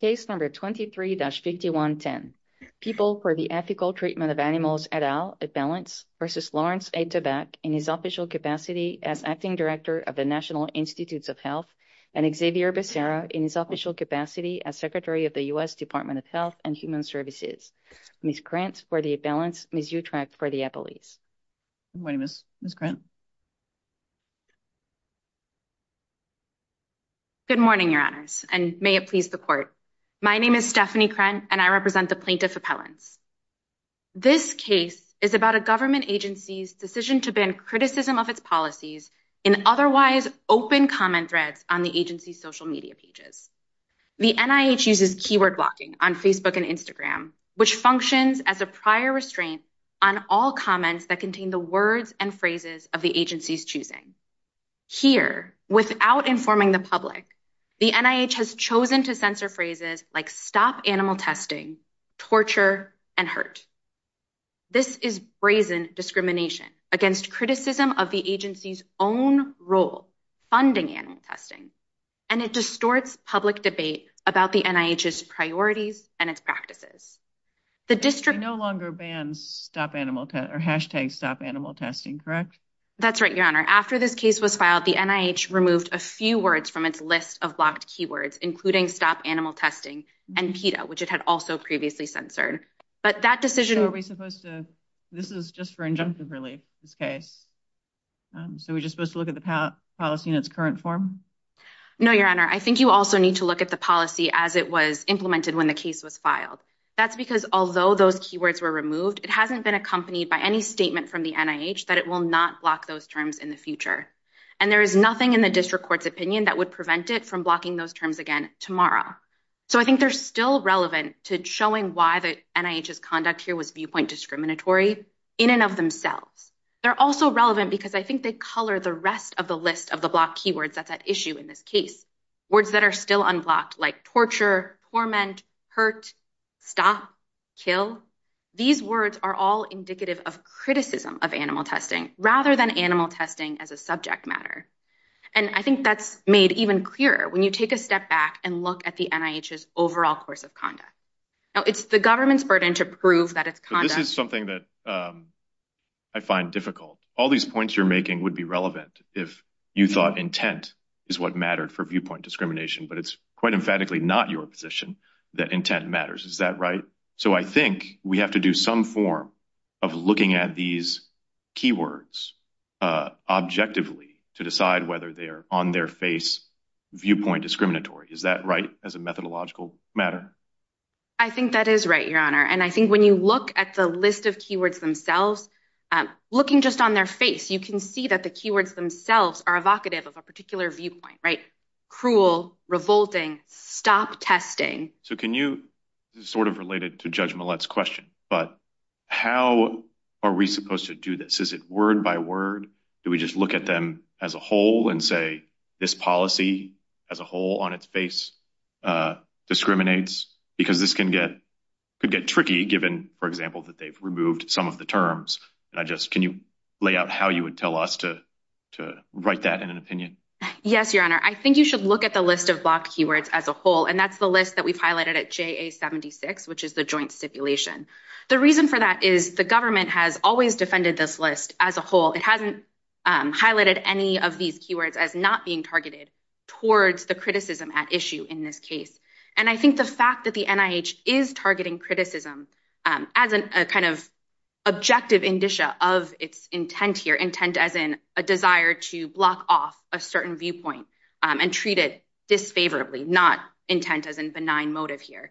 Case number 23-5110. People for the Ethical Treatment of Animals et al. Ethelence v. Lawrence Tabak in his official capacity as acting director of the National Institutes of Health and Xavier Becerra in his official capacity as Secretary of the U.S. Department of Health and Human Services. Ms. Krantz for the Ethelence, Ms. Utrecht for the Ethelese. Good morning Ms. Krantz. Good morning your honors and may it please the court. My name is Stephanie Krantz and I represent the plaintiff Ethelence. This case is about a government agency's decision to ban criticism of its policies in otherwise open comment threads on the agency's social media pages. The NIH uses keyword blocking on Facebook and Instagram which functions as a prior restraint on all comments that contain the words and phrases of the agency's choosing. Here without informing the public the NIH has chosen to censor phrases like stop animal testing, torture, and hurt. This is brazen discrimination against criticism of the agency's own role funding animal testing and it distorts public debate about the NIH's priorities and its practices. The district no longer bans stop animal testing or hashtag stop animal testing correct? That's right your honor. After this case was filed the NIH removed a few words from its list of blocked keywords including stop animal testing and PETA which it had also previously censored. But that decision... This is just for injunctive relief? Okay so we're just supposed to look at the policy in its current form? No your honor I think you also need to look at the policy as it was implemented when the case was filed. That's because although those keywords were removed it hasn't been accompanied by any statement from the NIH that it will not block those terms in the future. And there is nothing in the district court's opinion that would prevent it from blocking those terms again tomorrow. So I think they're still relevant to showing why the NIH's conduct here was viewpoint discriminatory in and of themselves. They're also relevant because I think they color the rest of the list of the blocked keywords that that issue in this case. Words that are still unblocked like torture, torment, hurt, stop, kill. These words are all indicative of criticism of animal testing rather than animal testing as a subject matter. And I think that's made even clearer when you take a step back and look at the NIH's overall course of conduct. Now it's the government's burden to prove that its conduct... This is something that I find difficult. All these points you're making would be relevant if you thought intent is what mattered for viewpoint discrimination. But it's quite emphatically not your position that looking at these keywords objectively to decide whether they are on their face viewpoint discriminatory. Is that right as a methodological matter? I think that is right, your honor. And I think when you look at the list of keywords themselves, looking just on their face, you can see that the keywords themselves are evocative of a particular viewpoint, right? Cruel, revolting, stop testing. So can you... This is sort of related to Judge Millett's question, but how are we supposed to do this? Is it word by word? Do we just look at them as a whole and say this policy as a whole on its face discriminates? Because this can get... could get tricky given, for example, that they've removed some of the terms. And I just... can you lay out how you would tell us to write that in an opinion? Yes, your honor. I think you should look at the list of block keywords as a whole, and that's the list that we've highlighted at JA 76, which is the joint stipulation. The reason for that is the government has always defended this list as a whole. It hasn't highlighted any of these keywords as not being targeted towards the criticism at issue in this case. And I think the fact that the NIH is targeting criticism as a kind of objective indicia of its intent here, intent as in a desire to block off a certain viewpoint and treat it disfavorably, not intent as in denying motive here,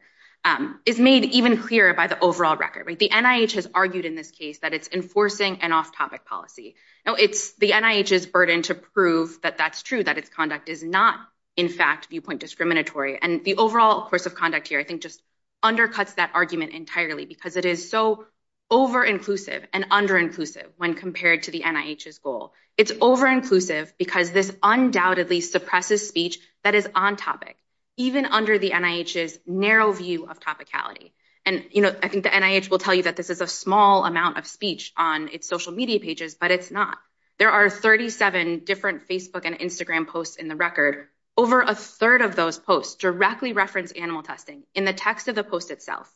is made even clearer by the overall record. The NIH has argued in this case that it's enforcing an off-topic policy. Now it's the NIH's burden to prove that that's true, that its conduct is not in fact viewpoint discriminatory. And the overall course of conduct here I think just undercuts that argument entirely because it is so over-inclusive and under-inclusive when compared to the NIH's goal. It's over-inclusive because this undoubtedly suppresses speech that is on topic, even under the NIH's narrow view of topicality. And you know I think the NIH will tell you that this is a small amount of speech on its social media pages, but it's not. There are 37 different Facebook and Instagram posts in the record. Over a third of those posts directly reference animal testing in the text of the post itself.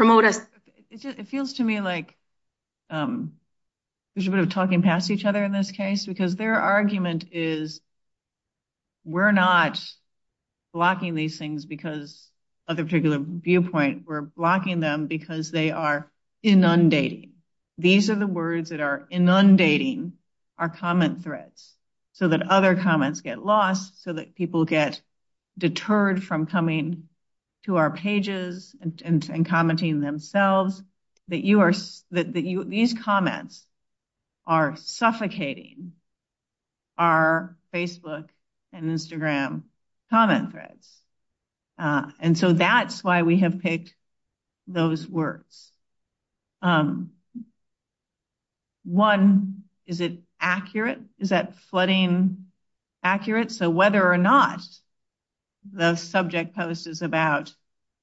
It feels to me like there's a bit of talking past each other in this case because their argument is we're not blocking these things because of a particular viewpoint. We're blocking them because they are inundating. These are the words that are inundating our comment threads so that other comments get lost, so that people get deterred from coming to our pages and commenting themselves. These comments are suffocating our Facebook and Instagram comment threads. And so that's why we have picked those words. One, is it accurate? Is that flooding accurate? So whether or not the subject post is about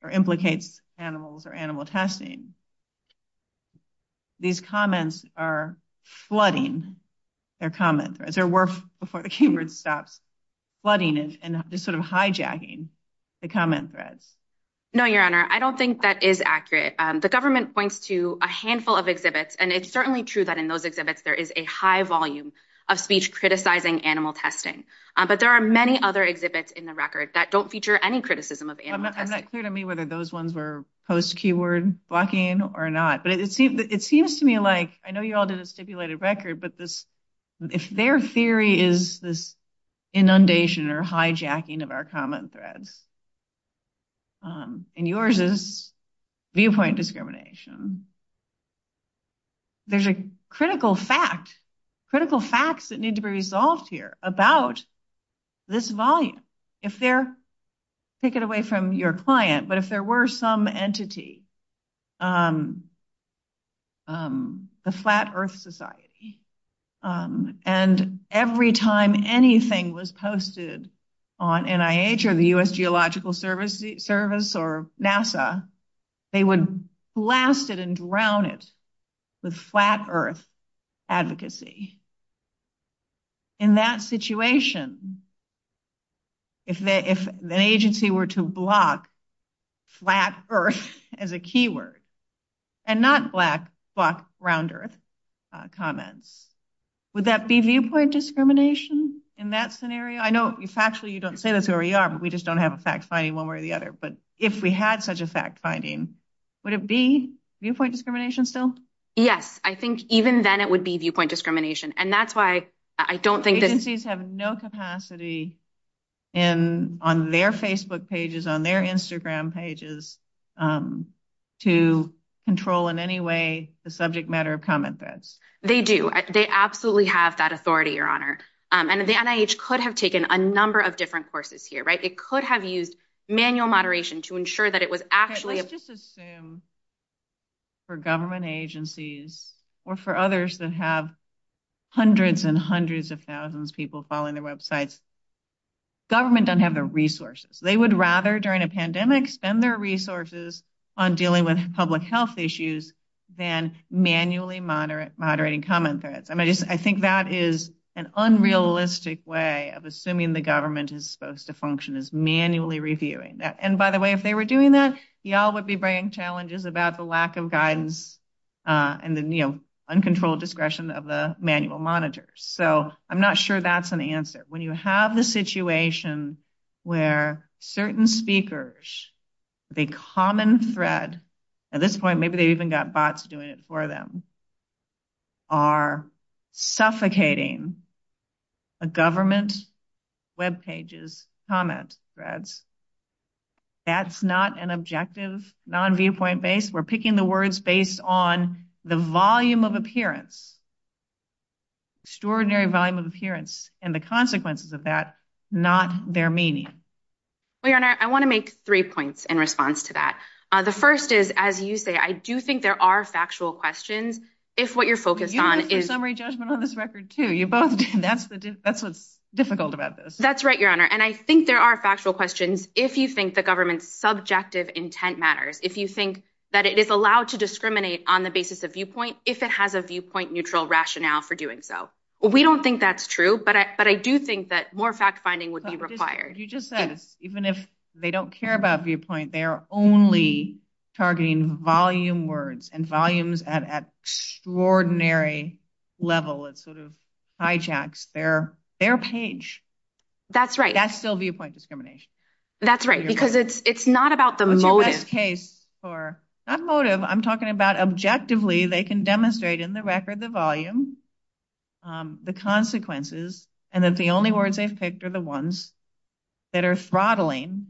or implicates animals or animal testing, these comments are flooding their comment threads. They're worth before the keyword stops. Flooding is sort of hijacking the comment thread. No, Your Honor. I don't think that is accurate. The government points to a handful of exhibits and it's certainly true that in those exhibits there is a high volume of speech criticizing animal testing. But there are many other exhibits in the record that don't feature any criticism of animals. I'm not clear to me whether those ones were post-keyword blocking or not. But it seems to me like, I know you all did a stipulated record, but this, if their theory is this inundation or hijacking of our comment thread, and yours is viewpoint discrimination, there's a critical fact, critical facts that need to be resolved here about this volume. If there, take it away from your client, but if there were some entity, the Flat Earth Society, and every time anything was posted on NIH or the U.S. Geological Service or NASA, they would blast it and drown it with flat-earth advocacy. In that situation, if an agency were to block flat earth as a keyword and not black, but round earth comments, would that be viewpoint discrimination in that scenario? I know it's actually, you don't say this, Your Honor, but we just don't have a fact finding one way or the other, but if we had such a fact finding, would it be viewpoint discrimination still? Yes, I think even then it would be viewpoint discrimination, and that's why I don't think that... Agencies have no capacity on their Facebook pages, on their Instagram pages, to control in any way the subject matter of comment threads. They do. They absolutely have that authority, Your Honor, and the NIH could have taken a number of different courses here, right? It could have used manual moderation to ensure that it was actually... Let's just assume for government agencies or for others that have hundreds and hundreds of thousands people following their websites, government doesn't have the resources. They would rather, during a pandemic, spend their resources on dealing with public health issues than manually moderate comment threads. I mean, I think that is an And by the way, if they were doing that, y'all would be bringing challenges about the lack of guidance and the, you know, uncontrolled discretion of the manual monitors. So I'm not sure that's an answer. When you have the situation where certain speakers, the common thread, at this point maybe they even got bots doing it for them, are suffocating the government's webpages' comment threads, that's not an objective non-viewpoint base. We're picking the words based on the volume of appearance, extraordinary volume of appearance, and the consequences of that, not their meaning. Well, Your Honor, I want to make three points in response to that. The first is, as you say, I do think there are factual questions if what you're focused on is... You have a summary judgment on this record, too. You both do. That's what's difficult about this. That's right, Your Honor, and I think there are factual questions if you think the government's subjective intent matters, if you think that it is allowed to discriminate on the basis of viewpoint if it has a viewpoint-neutral rationale for doing so. Well, we don't think that's true, but I do think that more fact-finding would be required. You just said, even if they don't care about viewpoint, they are only targeting volume words and volumes at an extraordinary level. It sort of hijacks their page. That's right. That's still viewpoint discrimination. That's right, because it's not about the motive. In this case, for that motive, I'm talking about objectively, they can demonstrate in the record the volume, the consequences, and that the only words they've picked are the ones that are throttling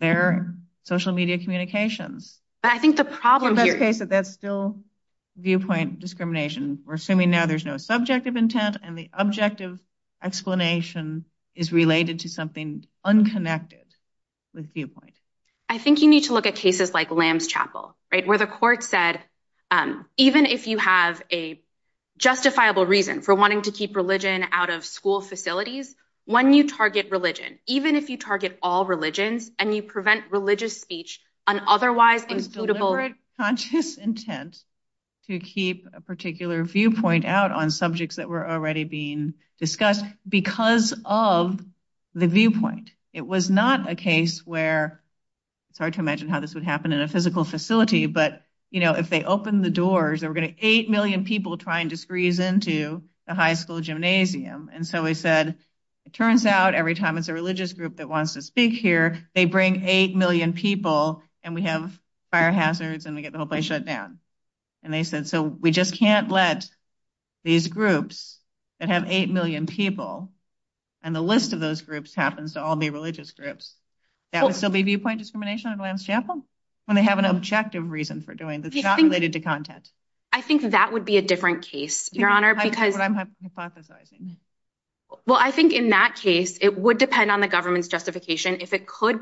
their social media communications. But I think the problem here... In that case, that's still viewpoint discrimination. We're assuming now there's no subjective intent and the objective explanation is related to something unconnected with viewpoint. I think you need to look at cases like Lamb's Chapel, right, where the court said, even if you have a justifiable reason for wanting to keep religion out of school facilities, when you target religion, even if you target all religions and you prevent religious speech on otherwise unsuitable... Conscious intent to keep a particular viewpoint out on subjects that were already being discussed because of the viewpoint. It was not a case where, it's hard to imagine how this would happen in a physical facility, but, you know, if they opened the doors, there were going to be 8 million people trying to squeeze into the high school gymnasium. And so we said, it turns out every time it's a religious group that wants to speak here, they bring 8 million people and we have fire hazards and we get the whole place shut down. And they said, so we just can't let these groups that have 8 million people, and the list of those groups happens to all be religious groups, that would still be viewpoint discrimination on Lamb's Chapel? When they have an objective reason for doing this, not related to Well, I think in that case, it would depend on the government's justification. If it could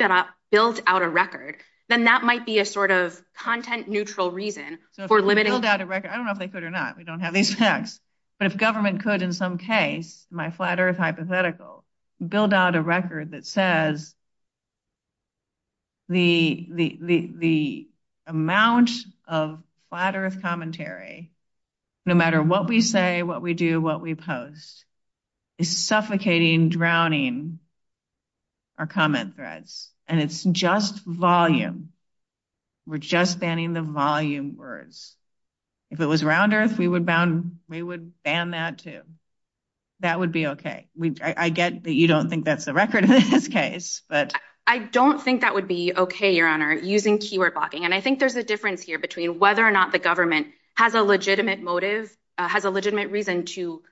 build out a record, then that might be a sort of content neutral reason for limiting... I don't know if they could or not, we don't have these facts, but if government could, in some case, my flat-earth hypothetical, build out a record that says the amount of flat-earth commentary, no matter what we say, what we do, what we post, is suffocating, drowning our comment threads. And it's just volume. We're just banning the volume words. If it was round-earth, we would ban that too. That would be okay. I get that you don't think that's the record in this case, but... I don't think that would be okay, Your Honor, using keyword blocking. And I think there's a difference here between whether or not the government has a legitimate motive, has a legitimate reason to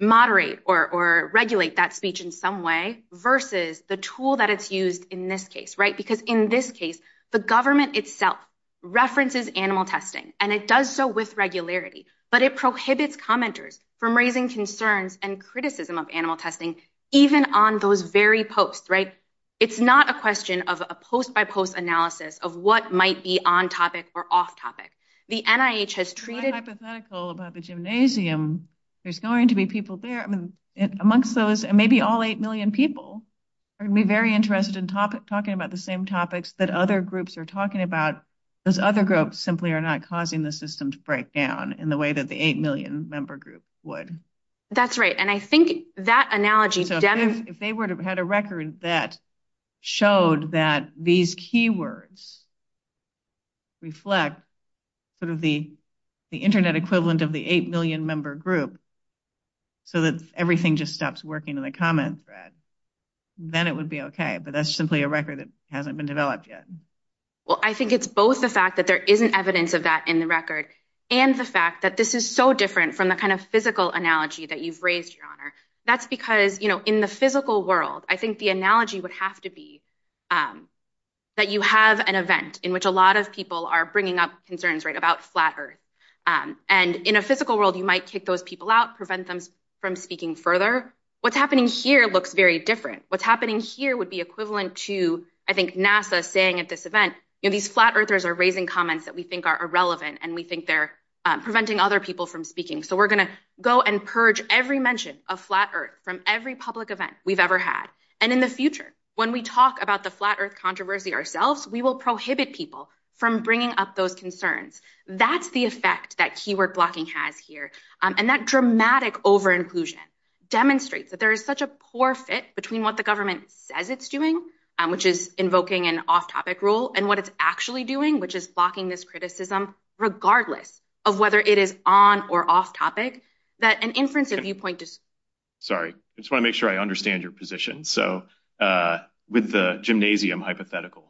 moderate or regulate that speech in some way, versus the tool that is used in this case, right? Because in this case, the government itself references animal testing, and it does so with regularity, but it prohibits commenters from raising concerns and criticism of animal testing, even on those very posts, right? It's not a question of a post-by-post analysis of what might be on-topic or off-topic. The NIH has created... Quite hypothetical about the gymnasium. There's going to be people there, I mean, amongst those, and maybe all eight million people, are going to be very interested in talking about the same topics that other groups are talking about, because other groups simply are not causing the system to break down in the way that the eight million-member group would. That's right, and I think that analogy... If they had a record that showed that these keywords reflect the internet equivalent of the eight million-member group, so that everything just stops working in the comments thread, then it would be okay, but that's simply a record that hasn't been developed yet. Well, I think it's both the fact that there isn't evidence of that in the record, and the fact that this is so different from the kind of physical analogy that you've raised, Your Honor. That's because, you know, in the physical world, I think the analogy would have to be that you have an event in which a lot of people are bringing up concerns, right, about Flat Earth, and in a physical world, you might kick those people out, prevent them from speaking further. What's happening here looks very different. What's happening here would be equivalent to, I think, NASA saying at this event, you know, these Flat Earthers are raising comments that we think are irrelevant, and we think they're preventing other people from speaking. So we're going to go and purge every mention of Flat Earth from every public event we've ever had, and in the future, when we talk about the Flat Earth controversy ourselves, we will prohibit people from bringing up those concerns. That's the effect that keyword blocking has here, and that dramatic over-inclusion demonstrates that there is such a poor fit between what the government says it's doing, which is invoking an off-topic rule, and what it's actually doing, which is blocking this criticism, regardless of whether it is on or off-topic, that an inference of viewpoint... Sorry, just want to make sure I understand your position. So with the gymnasium hypothetical,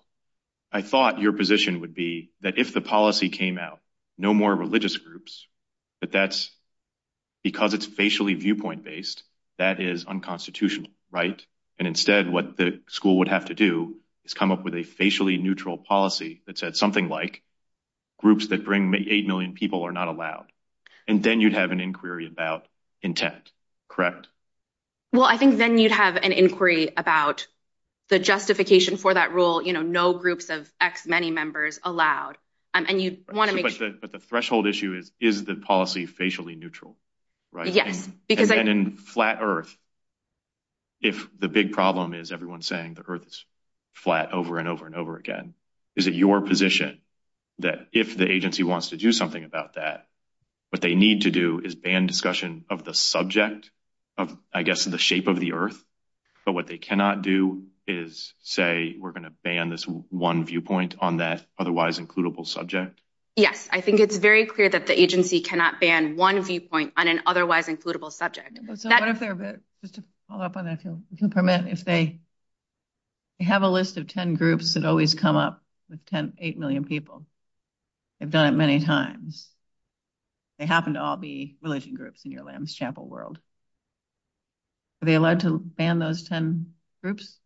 I thought your position would be that if the policy came out, no more religious groups, but that's because it's facially viewpoint based, that is unconstitutional, right? And instead, what the school would have to do is come up with a facially neutral policy that said something like, groups that bring eight million people are not allowed, and then you'd have an inquiry about intent, correct? Well, I think then you'd have an inquiry about the justification for that rule, you know, no groups of X many members allowed, and you want to make sure... But the threshold issue is, is the policy facially neutral, right? Yes. And then in Flat Earth, if the big problem is everyone's saying the earth is flat over and over and over again, is it your position that if the agency wants to do something about that, what they need to do is ban discussion of the subject of, I guess, the shape of the earth, but what they cannot do is say we're going to ban this one viewpoint on that otherwise includable subject? Yes, I think it's very clear that the agency cannot ban one viewpoint on an otherwise includable subject. Just to follow up on that, if you'll permit, if they have a list of ten people, they've done it many times, they happen to all be religion groups in your Lamb's Chapel world, are they allowed to ban those ten groups?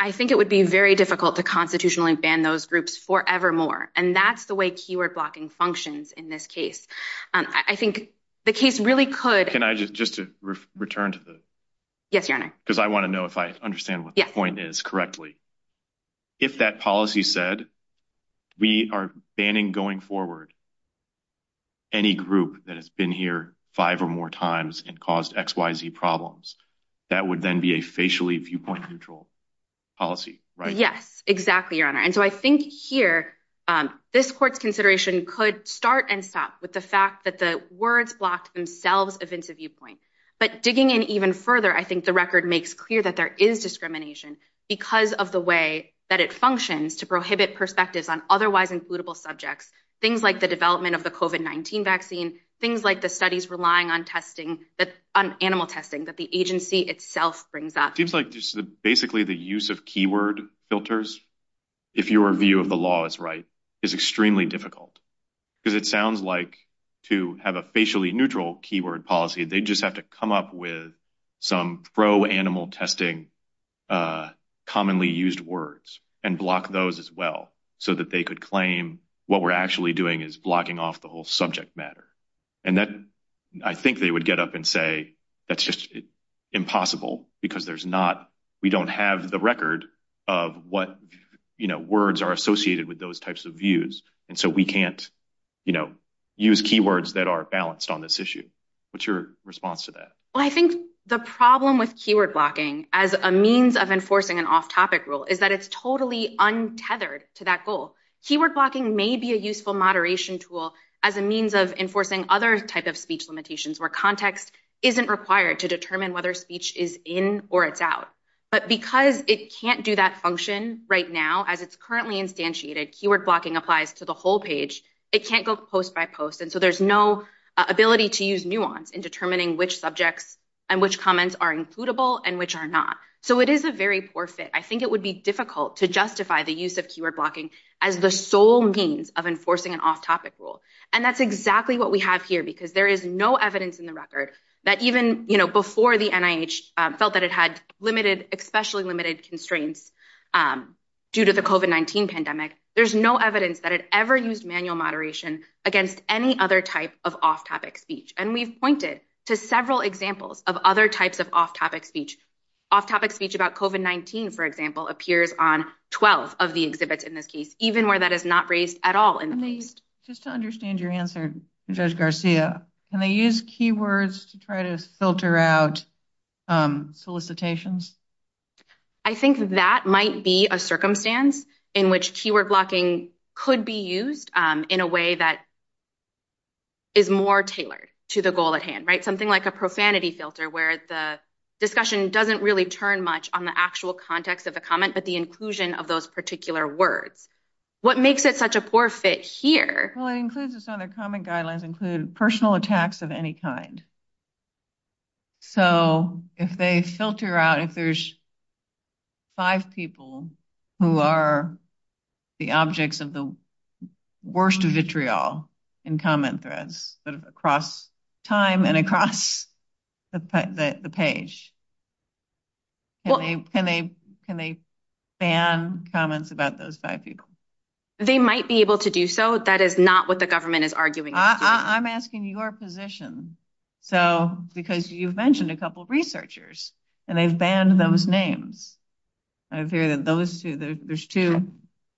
I think it would be very difficult to constitutionally ban those groups forevermore, and that's the way keyword blocking functions in this case. I think the case really could... Can I just return to this? Yes, Your Honor. Because I want to know if I understand what this point is correctly. If that policy said we are banning going forward any group that has been here five or more times and caused XYZ problems, that would then be a facially viewpoint neutral policy, right? Yes, exactly, Your Honor, and so I think here this court's consideration could start and stop with the fact that the words block themselves of interview points, but digging in even further, I think the court's consideration, because of the way that it functions to prohibit perspectives on otherwise includable subjects, things like the development of the COVID-19 vaccine, things like the studies relying on testing, on animal testing that the agency itself brings up. Seems like just basically the use of keyword filters, if your view of the law is right, is extremely difficult, because it sounds like to have a facially neutral keyword policy, they just have to block commonly used words and block those as well, so that they could claim what we're actually doing is blocking off the whole subject matter, and then I think they would get up and say that's just impossible, because there's not, we don't have the record of what, you know, words are associated with those types of views, and so we can't, you know, use keywords that are balanced on this issue. What's your response to that? Well, I think the problem with keyword blocking as a means of enforcing an off-topic rule is that it's totally untethered to that goal. Keyword blocking may be a useful moderation tool as a means of enforcing other types of speech limitations, where context isn't required to determine whether speech is in or it's out, but because it can't do that function right now, as it's currently instantiated, keyword blocking applies to the whole page. It can't go post by post, and so there's no ability to use nuance or not, so it is a very poor fit. I think it would be difficult to justify the use of keyword blocking as the sole means of enforcing an off-topic rule, and that's exactly what we have here, because there is no evidence in the record that even, you know, before the NIH felt that it had limited, especially limited constraints due to the COVID-19 pandemic, there's no evidence that it ever used manual moderation against any other type of off-topic speech, and we've pointed to off-topic speech about COVID-19, for example, appears on 12 of the exhibits in this case, even where that is not raised at all in the case. Just to understand your answer, Judge Garcia, can they use keywords to try to filter out solicitations? I think that might be a circumstance in which keyword blocking could be used in a way that is more tailored to the goal at hand, right? Something like a profanity filter, where the discussion doesn't really turn much on the actual context of the comment, but the inclusion of those particular words. What makes it such a poor fit here? Well, it includes, it's not a comment guidelines, include personal attacks of any kind. So, if they filter out, if there's five people who are the objects of the worst of vitriol in comment threads, but across time and across the page, can they ban comments about those five people? They might be able to do so. That is not what the government is arguing. I'm asking your position. So, because you've mentioned a couple of researchers, and they've banned those names. Those two, there's two.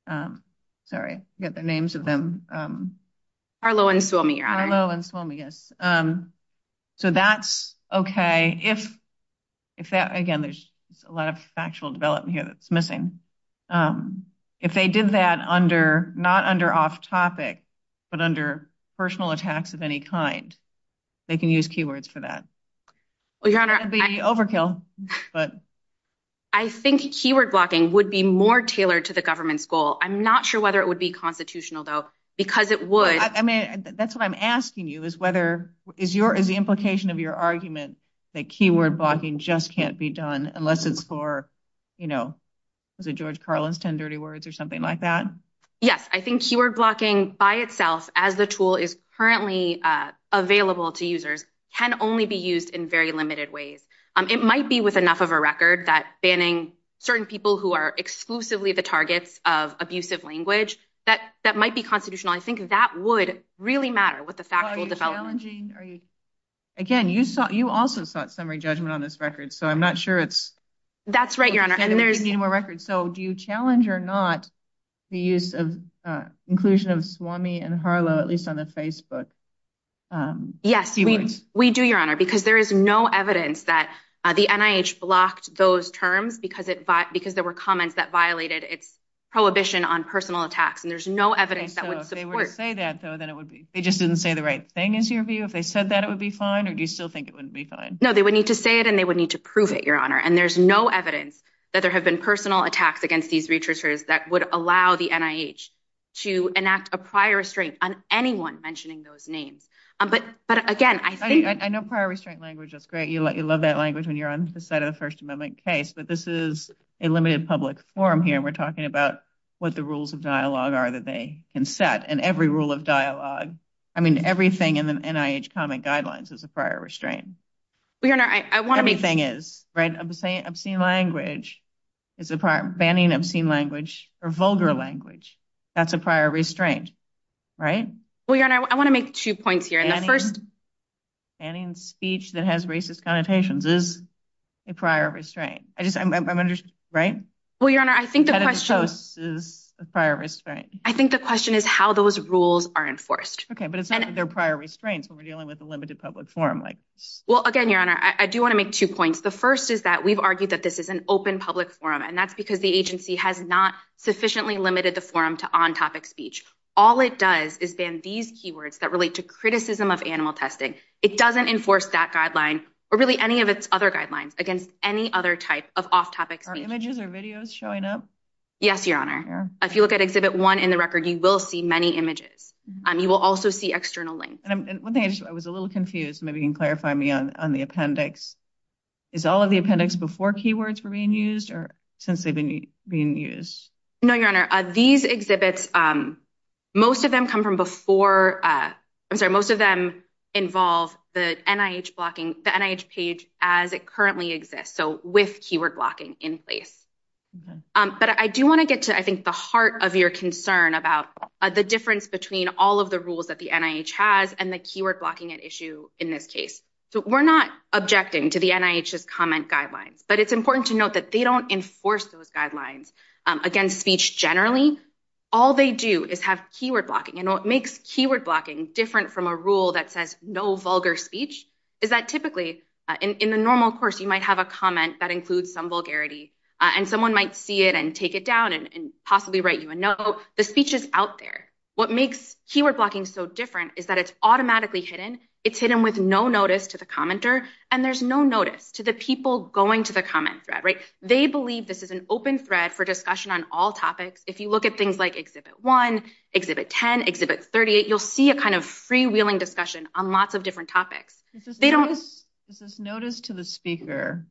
Sorry, I forget the names of them. Harlow and Suomi. Harlow and Suomi, yes. So, that's okay. If that, again, there's a lot of factual development here that's missing. If they did that under, not under off-topic, but under personal attacks of any kind, they can use keywords for that. That would be overkill. I think keyword blocking would be more tailored to the government's goal. I'm not sure whether it would be constitutional, though, because it would. I mean, that's what I'm asking you is whether, is the implication of your argument that keyword blocking just can't be done unless it's for, you know, the George Carlin's 10 Dirty Words or something like that? Yes, I think keyword blocking by itself as a tool is currently available to users can only be used in very limited ways. It might be with enough of a record that banning certain people who are exclusively the targets of abusive language, that might be constitutional. I think that would really matter with the factual development. Again, you also sought summary judgment on this record, so I'm not sure it's... That's right, Your Honor. ...needing more records. So, do you challenge or not the use of inclusion of Suomi and Harlow, at least on a Facebook? Yes, we do, Your Honor, because there is no evidence that the NIH blocked those terms because there were comments that violated its prohibition on personal attacks, and there's no evidence that would support... They just didn't say the right thing, is your view? If they said that, it would be fine, or do you still think it wouldn't be fine? No, they would need to say it and they would need to prove it, Your Honor, and there's no evidence that there have been personal attacks against these researchers that would allow the NIH to enact a prior restraint on anyone mentioning those names. But again, I think... That's great. You love that language when you're on the side of a First Amendment case, but this is a limited public forum here. We're talking about what the rules of dialogue are that they can set, and every rule of dialogue... I mean, everything in the NIH comment guidelines is a prior restraint. Well, Your Honor, I want to make... Everything is, right? Obscene language is a prior... Banning obscene language, or vulgar language, that's a prior restraint, right? Well, Your Honor, I want to make two points here, and the first... Banning speech that has racist connotations is a prior restraint. I just... I'm under... Right? Well, Your Honor, I think the question... That is a prior restraint. I think the question is how those rules are enforced. Okay, but it's not that they're prior restraints when we're dealing with a limited public forum, right? Well, again, Your Honor, I do want to make two points. The first is that we've argued that this is an open public forum, and that's because the agency has not sufficiently limited the forum to on-topic speech. All it does is ban these keywords that relate to criticism of animal testing. It doesn't enforce that guideline, or really any of its other guidelines, against any other type of off-topic speech. Are images or videos showing up? Yes, Your Honor. Yeah. If you look at Exhibit 1 in the record, you will see many images. You will also see external links. And one thing... I was a little confused. Maybe you can clarify for me on the appendix. Is all of the appendix before keywords were being used, or since they've been used? No, Your Honor. These exhibits, most of them come from before... I'm sorry, most of them involve the NIH blocking, the NIH page as it currently exists, so with keyword blocking in place. But I do want to get to, I think, the heart of your concern about the difference between all of the rules that the NIH has and the keyword blocking at issue in this case. We're not objecting to the NIH's comment guidelines, but it's important to note that they don't enforce those guidelines against speech generally. All they do is have keyword blocking, and what makes keyword blocking different from a rule that says no vulgar speech is that typically, in the normal course, you might have a comment that includes some vulgarity, and someone might see it and take it down and possibly write you a note. So the speech is out there. What makes keyword blocking so different is that it's automatically hidden. It's hidden with no notice to the commenter, and there's no notice to the people going to the comment thread, right? They believe this is an open thread for discussion on all topics. If you look at things like Exhibit 1, Exhibit 10, Exhibit 38, you'll see a kind of freewheeling discussion on lots of different topics. Is this notice to the speaker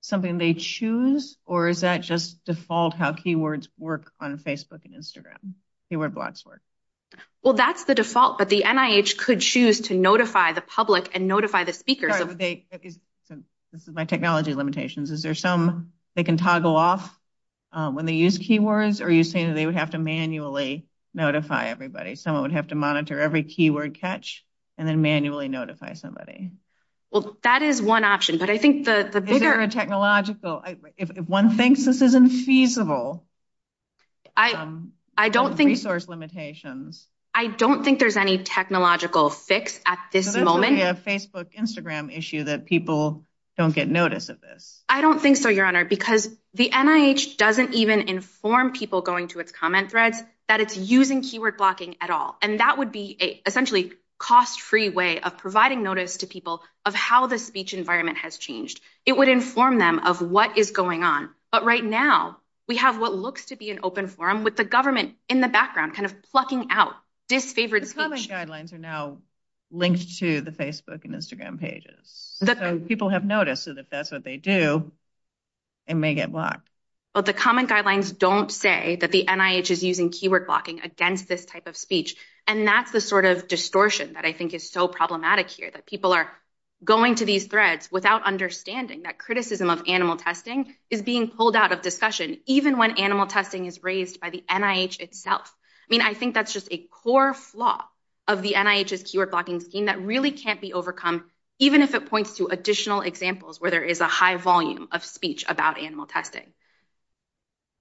something they choose, or is that just default how keywords work on Facebook and Instagram, keyword blocks work? Well, that's the default, but the NIH could choose to notify the public and notify the speaker. This is my technology limitations. Is there some they can toggle off when they use keywords, or are you saying they would have to manually notify everybody? Someone would have to monitor every keyword catch and then manually notify somebody. Well, that is one option, but I think the bigger... If one thinks this isn't feasible... I don't think... Resource limitations. I don't think there's any technological fix at this moment. Maybe a Facebook, Instagram issue that people don't get notice of this. I don't think so, Your Honor, because the NIH doesn't even inform people going to its comment thread that it's using keyword blocking at all, and that would be essentially a cost-free way of providing notice to people of how the speech environment has changed. It would inform them of what is going on, but right now, we have what looks to be an open forum with the government in the background kind of plucking out this favorite speech. The comment guidelines are now linked to the Facebook and Instagram pages, and people have noticed that if that's what they do, it may get blocked. Well, the comment guidelines don't say that the NIH is using keyword blocking against this type of speech, and that's the sort of distortion that I think is so problematic here, that people are going to these threads without understanding that criticism of animal testing is being pulled out of discussion, even when animal testing is raised by the NIH itself. I mean, I think that's just a core flaw of the NIH's keyword blocking scheme that really can't be overcome, even if it points to additional examples where there is a high volume of speech about animal testing.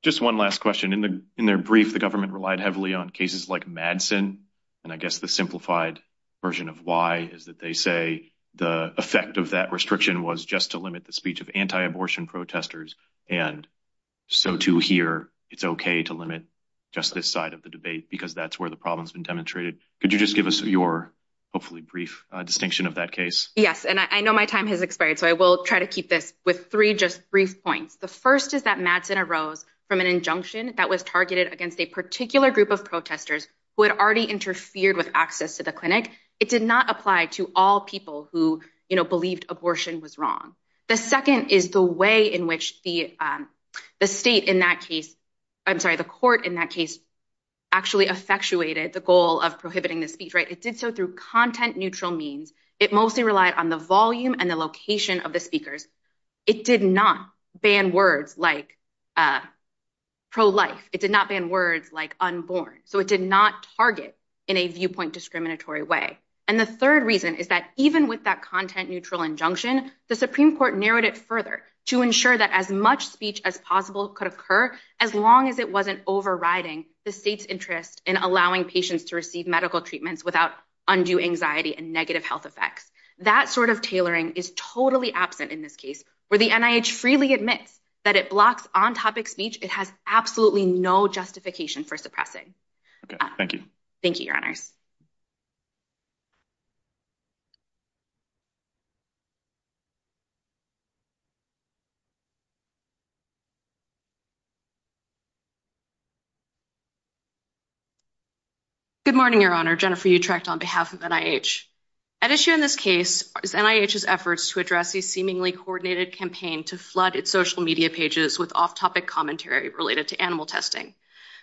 Just one last question. In the brief, the government relied heavily on cases like Madsen, and I guess the simplified version of why is that they say the effect of that restriction was just to limit the speech of anti-abortion protesters, and so, too, here, it's okay to limit just this side of the debate because that's where the problem's been demonstrated. Could you just give us your, hopefully, brief distinction of that case? Yes, and I know my time has expired, so I will try to keep this with three just brief points. The first is that Madsen arose from an injunction that was targeted against a particular group of protesters who had already interfered with access to the clinic. It did not apply to all people who believed abortion was wrong. The second is the way in which the court in that case actually effectuated the goal of prohibiting the speech. It did so through content-neutral means. It mostly relied on the volume and the location of the speakers. It did not ban words like pro-life. It did not ban words like unborn, so it did not target in a viewpoint discriminatory way. And the third reason is that even with that content-neutral injunction, the Supreme Court narrowed it further to ensure that as much speech as possible could occur as long as it wasn't overriding the state's interest in allowing patients to receive medical treatments without undue anxiety and negative health effects. That sort of tailoring is totally absent in this case where the NIH freely admits that it blocks on-topic speech. It has absolutely no justification for suppressing. Thank you. Thank you, Your Honor. Good morning, Your Honor. I'm Jennifer Utrecht on behalf of NIH. At issue in this case is NIH's efforts to address the seemingly coordinated campaign to flood its social media pages with off-topic commentary related to animal testing.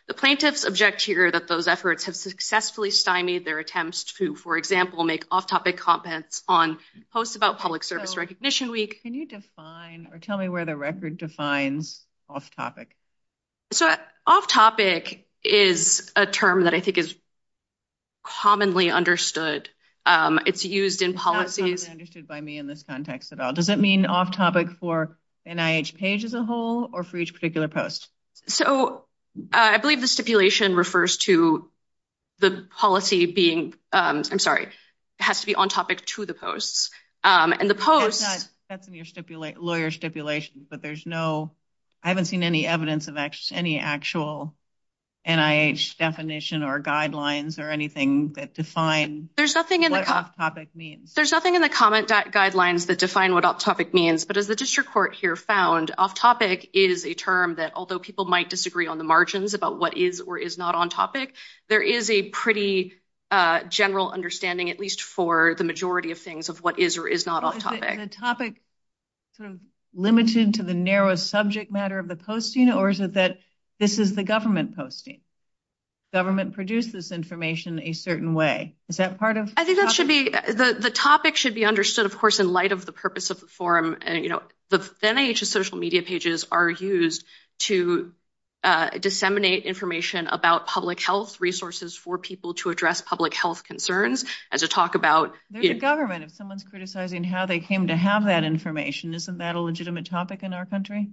The plaintiffs object here that those efforts have successfully stymied their attempts to, for example, make off-topic comments on posts about public service recognition week. Can you define or tell me where the record defines off-topic? So off-topic is a term that I think is commonly understood. It's used in policy. It's not understood by me in this context at all. Does it mean off-topic for the NIH page as a whole or for each particular post? So I believe the stipulation refers to the policy being, I'm sorry, has to be on-topic to the posts. That's in your lawyer stipulation, but I haven't seen any evidence of any actual NIH definition or guidelines or anything that define what off-topic means. There's nothing in the comment guidelines that define what off-topic means. But as the district court here found, off-topic is a term that, although people might disagree on the margins about what is or is not on-topic, there is a pretty general understanding, at least for the majority of things, of what is or is not off-topic. Is the topic sort of limited to the narrow subject matter of the posting, or is it that this is the government posting? Government produces information a certain way. Is that part of the topic? I think that should be – the topic should be understood, of course, in light of the purpose of the forum. The NIH's social media pages are used to disseminate information about public health resources for people to address public health concerns and to talk about – They're the government. If someone's criticizing how they came to have that information, isn't that a legitimate topic in our country?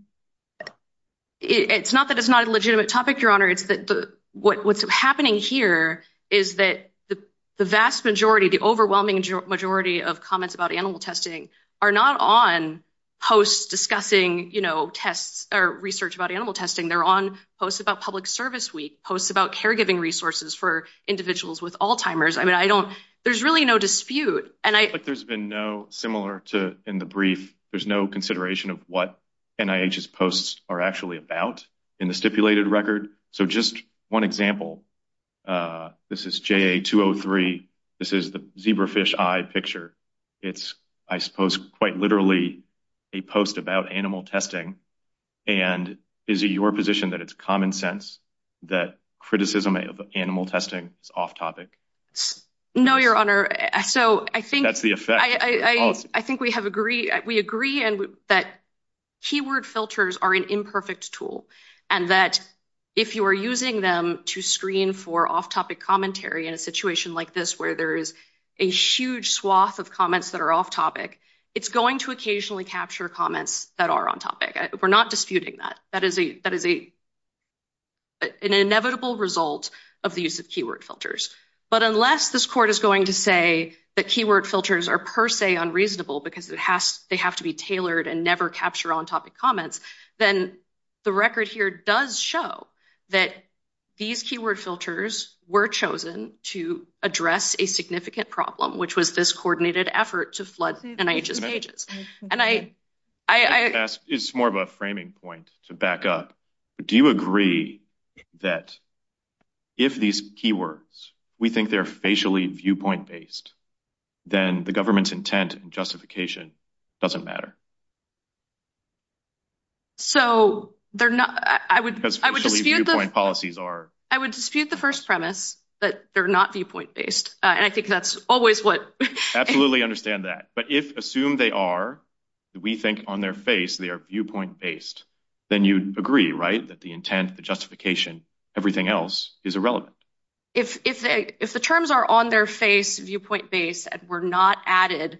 It's not that it's not a legitimate topic, Your Honor. What's happening here is that the vast majority, the overwhelming majority of comments about animal testing are not on posts discussing research about animal testing. They're on posts about public service week, posts about caregiving resources for individuals with Alzheimer's. I mean, I don't – there's really no dispute. But there's been no – similar to in the brief, there's no consideration of what NIH's posts are actually about in the stipulated record. So, just one example. This is JA203. This is the zebrafish eye picture. It's, I suppose, quite literally a post about animal testing. And is it your position that it's common sense that criticism of animal testing is off topic? No, Your Honor. So, I think – That's the effect. I think we agree that keyword filters are an imperfect tool. And that if you are using them to screen for off-topic commentary in a situation like this where there is a huge swath of comments that are off-topic, it's going to occasionally capture comments that are on topic. We're not disputing that. That is an inevitable result of the use of keyword filters. But unless this court is going to say that keyword filters are per se unreasonable because they have to be tailored and never capture on-topic comments, then the record here does show that these keyword filters were chosen to address a significant problem, which was this coordinated effort to flood NIH's pages. It's more of a framing point to back up. Do you agree that if these keywords, we think they're facially viewpoint-based, then the government's intent and justification doesn't matter? So, I would dispute the first premise that they're not viewpoint-based. And I think that's always what – Absolutely understand that. But if, assume they are, we think on their face they are viewpoint-based, then you'd agree, right? That the intent, the justification, everything else is irrelevant. If the terms are on their face, viewpoint-based, and were not added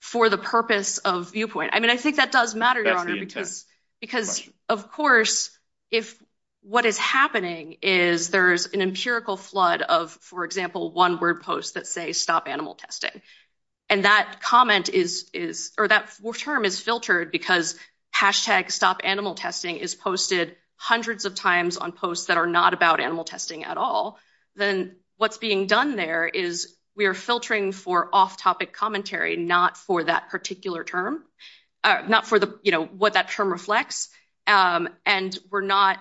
for the purpose of viewpoint – I mean, I think that does matter, Your Honor. That's the intent. Because, of course, if what is happening is there is an empirical flood of, for example, one-word posts that say, stop animal testing. And that comment is – or that term is filtered because hashtag stop animal testing is posted hundreds of times on posts that are not about animal testing at all. Then what's being done there is we are filtering for off-topic commentary, not for that particular term. Not for the, you know, what that term reflects. And we're not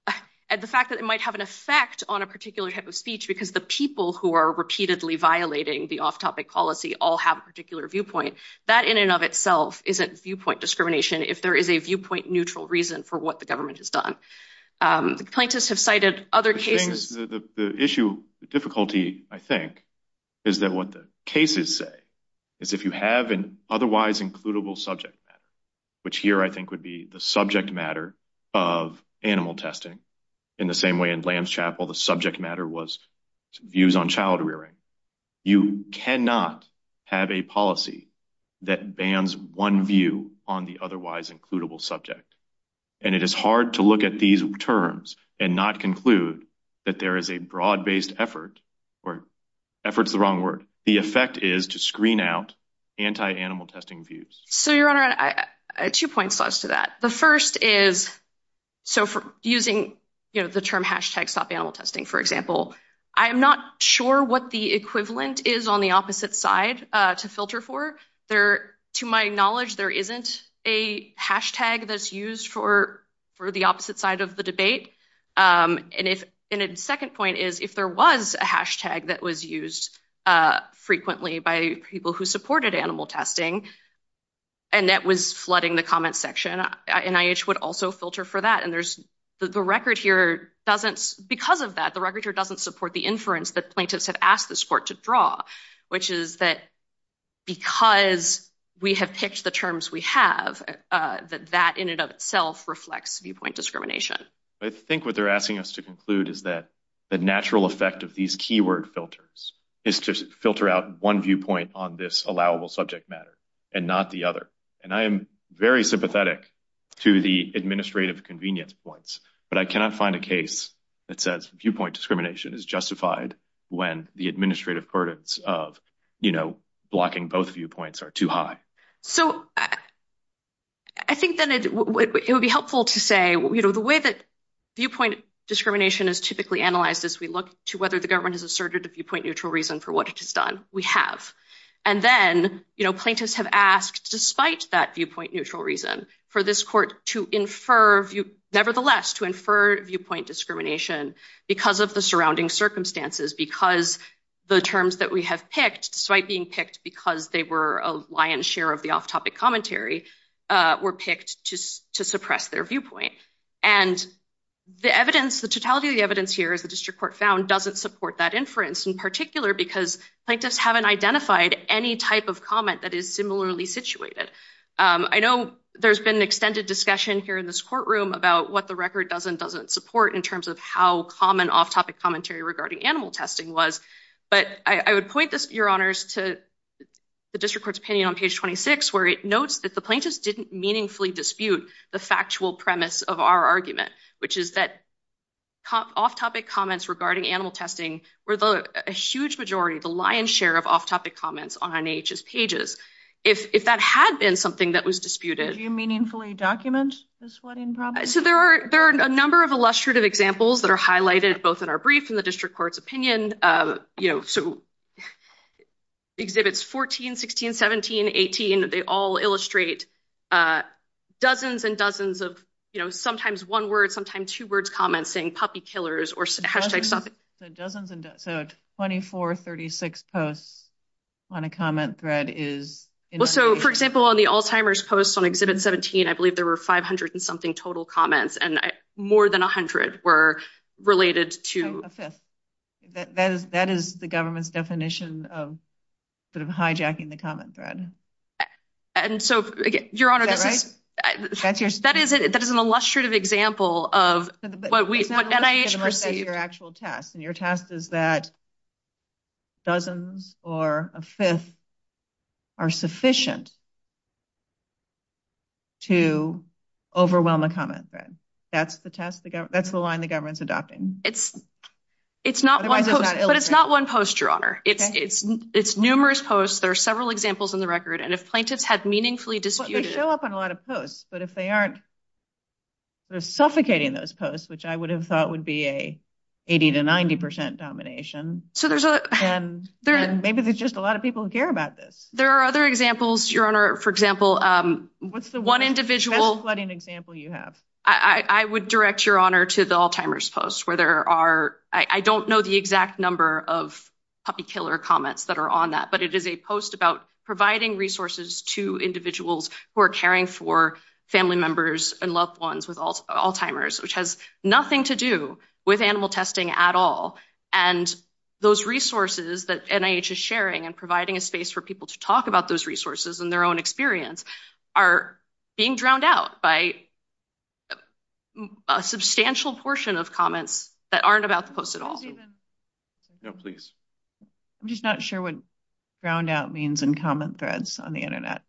– and the fact that it might have an effect on a particular type of speech because the people who are repeatedly violating the off-topic policy all have a particular viewpoint. That in and of itself isn't viewpoint discrimination if there is a viewpoint-neutral reason for what the government has done. Plaintiffs have cited other cases – of animal testing in the same way in Lance Chapel the subject matter was views on child rearing. You cannot have a policy that bans one view on the otherwise-includable subject. And it is hard to look at these terms and not conclude that there is a broad-based effort – or effort is the wrong word. The effect is to screen out anti-animal testing views. So, Your Honor, two points to that. The first is – so, using, you know, the term hashtag stop animal testing, for example, I'm not sure what the equivalent is on the opposite side to filter for. To my knowledge, there isn't a hashtag that's used for the opposite side of the debate. And a second point is if there was a hashtag that was used frequently by people who supported animal testing and that was flooding the comment section, NIH would also filter for that. And there's – the record here doesn't – because of that, the record here doesn't support the inference that plaintiffs have asked this court to draw, which is that because we have picked the terms we have, that that in and of itself reflects viewpoint discrimination. I think what they're asking us to conclude is that the natural effect of these keyword filters is to filter out one viewpoint on this allowable subject matter and not the other. And I am very sympathetic to the administrative convenience points, but I cannot find a case that says viewpoint discrimination is justified when the administrative burdens of, you know, blocking both viewpoints are too high. So, I think that it would be helpful to say, you know, the way that viewpoint discrimination is typically analyzed is we look to whether the government has asserted a viewpoint neutral reason for what it has done. We have. And then, you know, plaintiffs have asked, despite that viewpoint neutral reason, for this court to infer – nevertheless, to infer viewpoint discrimination because of the surrounding circumstances, because the terms that we have picked, despite being picked because they were a lion's share of the off-topic commentary, were picked to suppress their viewpoint. And the evidence, the totality of the evidence here, as the district court found, doesn't support that inference, in particular because plaintiffs haven't identified any type of comment that is similarly situated. I know there's been extended discussion here in this courtroom about what the record does and doesn't support in terms of how common off-topic commentary regarding animal testing was, but I would point this, Your Honors, to the district court's opinion on page 26, where it notes that the plaintiffs didn't meaningfully dispute the factual premise of our argument, which is that off-topic comments regarding animal testing were a huge majority, the lion's share of off-topic comments on NAH's pages. If that had been something that was disputed – Did you meaningfully document this? So there are a number of illustrative examples that are highlighted both in our brief and the district court's opinion. Exhibits 14, 16, 17, 18, they all illustrate dozens and dozens of sometimes one-word, sometimes two-word comments saying puppy killers or hashtag stop it. So 24, 36 posts on a comment thread is – For example, on the Alzheimer's post on Exhibit 17, I believe there were 500-and-something total comments, and more than 100 were related to – A fifth. That is the government's definition of sort of hijacking the comment thread. And so, Your Honor, that is an illustrative example of what NIH perceives – Your test is that dozens or a fifth are sufficient to overwhelm a comment thread. That's the line the government's adopting. But it's not one post, Your Honor. It's numerous posts. There are several examples on the record. And if plaintiffs had meaningfully disputed – They show up on a lot of posts, but if they aren't suffocating those posts, which I would have thought would be an 80 to 90 percent domination, then maybe there's just a lot of people who care about this. There are other examples, Your Honor. For example, one individual – I would direct Your Honor to the Alzheimer's post where there are – I don't know the exact number of puppy killer comments that are on that, but it is a post about providing resources to individuals who are caring for family members and loved ones with Alzheimer's, which has nothing to do with animal testing at all. And those resources that NIH is sharing and providing a space for people to talk about those resources in their own experience are being drowned out by a substantial portion of comments that aren't about the post at all. No, please. I'm just not sure what drowned out means in comment threads on the Internet.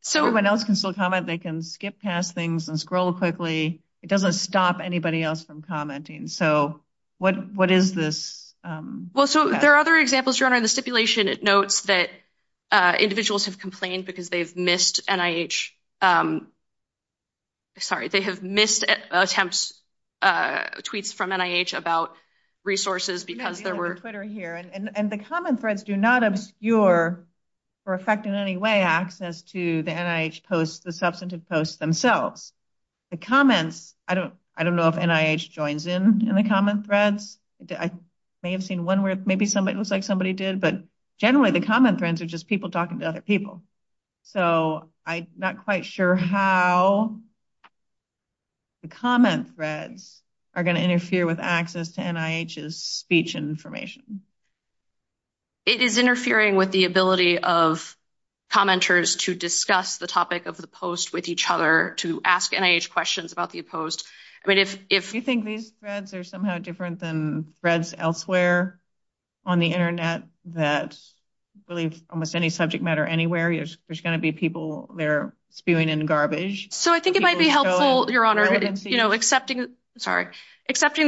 So when else can someone comment? They can skip past things and scroll quickly. It doesn't stop anybody else from commenting. Well, so there are other examples, Your Honor. The stipulation notes that individuals have complained because they've missed NIH – sorry, they have missed attempts, tweets from NIH about resources because there were – Yeah, the other Twitter here. And the comment threads do not obscure or affect in any way access to the NIH posts, the substantive posts themselves. The comments – I don't know if NIH joins in in the comment threads. I may have seen one where maybe it looks like somebody did, but generally the comment threads are just people talking to other people. So I'm not quite sure how the comment threads are going to interfere with access to NIH's speech information. It is interfering with the ability of commenters to discuss the topic of the post with each other, to ask NIH questions about the post. Do you think these threads are somehow different than threads elsewhere on the Internet that believe almost any subject matter anywhere, there's going to be people there spewing in garbage? So I think it might be helpful, Your Honor, accepting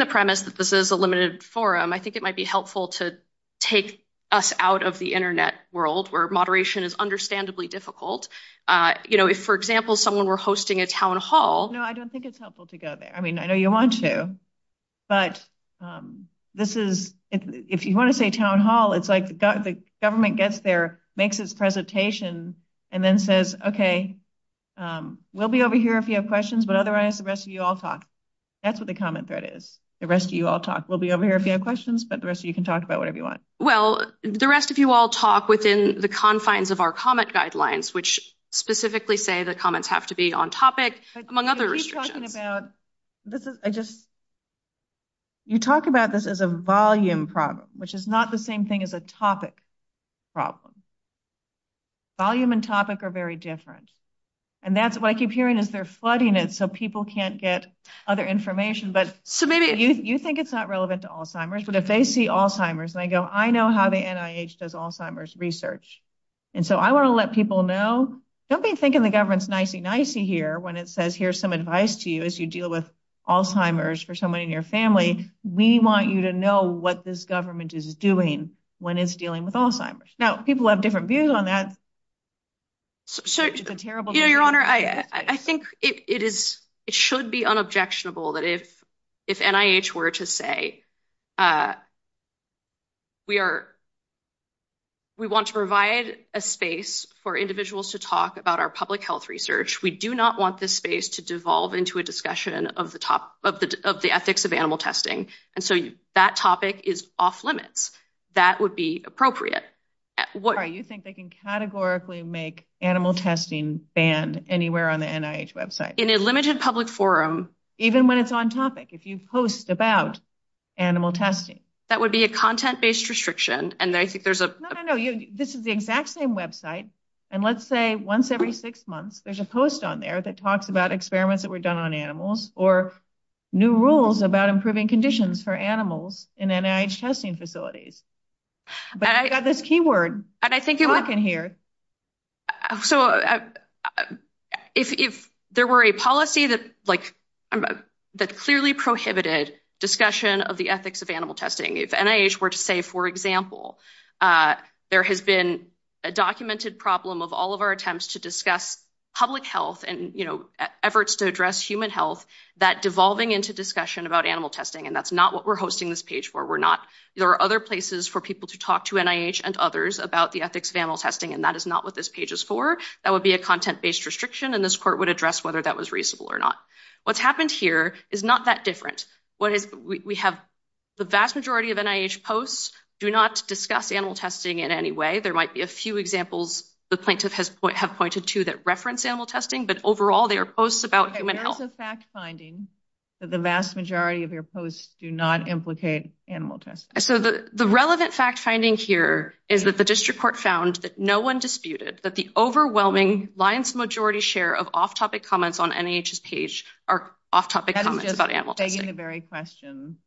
the premise that this is a limited forum, I think it might be helpful to take us out of the Internet world where moderation is understandably difficult. If, for example, someone were hosting a town hall – No, I don't think it's helpful to go there. I mean, I know you want to, but this is – if you want to say town hall, it's like the government gets there, makes its presentation, and then says, okay, we'll be over here if you have questions, but otherwise the rest of you all talk. That's what the comment thread is. The rest of you all talk. We'll be over here if you have questions, but the rest of you can talk about whatever you want. Well, the rest of you all talk within the confines of our comment guidelines, which specifically say the comments have to be on topic, among other restrictions. You talk about this as a volume problem, which is not the same thing as a topic problem. Volume and topic are very different, and that's what I keep hearing is they're flooding it so people can't get other information. So maybe you think it's not relevant to Alzheimer's, but if they see Alzheimer's and they go, I know how the NIH does Alzheimer's research, and so I want to let people know. Don't be thinking the government's nicey-nicey here when it says here's some advice to you as you deal with Alzheimer's for someone in your family. We want you to know what this government is doing when it's dealing with Alzheimer's. Now, people have different views on that. Your Honor, I think it should be unobjectionable that if NIH were to say, we want to provide a space for individuals to talk about our public health research. We do not want this space to dissolve into a discussion of the ethics of animal testing, and so that topic is off limits. That would be appropriate. You think they can categorically make animal testing banned anywhere on the NIH website? In a limited public forum. Even when it's on topic, if you post about animal testing. That would be a content-based restriction, and I think there's a... No, no, no. This is the exact same website, and let's say once every six months, there's a post on there that talks about experiments that were done on animals or new rules about improving conditions for animals in NIH testing facilities. But I got this key word. And I think it was... Talk in here. So, if there were a policy that clearly prohibited discussion of the ethics of animal testing, if NIH were to say, for example, there has been a documented problem of all of our attempts to discuss public health and efforts to address human health, that devolving into discussion about animal testing, and that's not what we're hosting this page for. There are other places for people to talk to NIH and others about the ethics of animal testing, and that is not what this page is for. That would be a content-based restriction, and this court would address whether that was reasonable or not. What's happened here is not that different. The vast majority of NIH posts do not discuss animal testing in any way. There might be a few examples the plaintiffs have pointed to that reference animal testing, but overall, they are posts about human health. What's the fact-finding that the vast majority of your posts do not implicate animal testing? So, the relevant fact-finding here is that the district court found that no one disputed that the overwhelming lion's majority share of off-topic comments on NIH's page are off-topic comments about animal testing. I'm taking the very question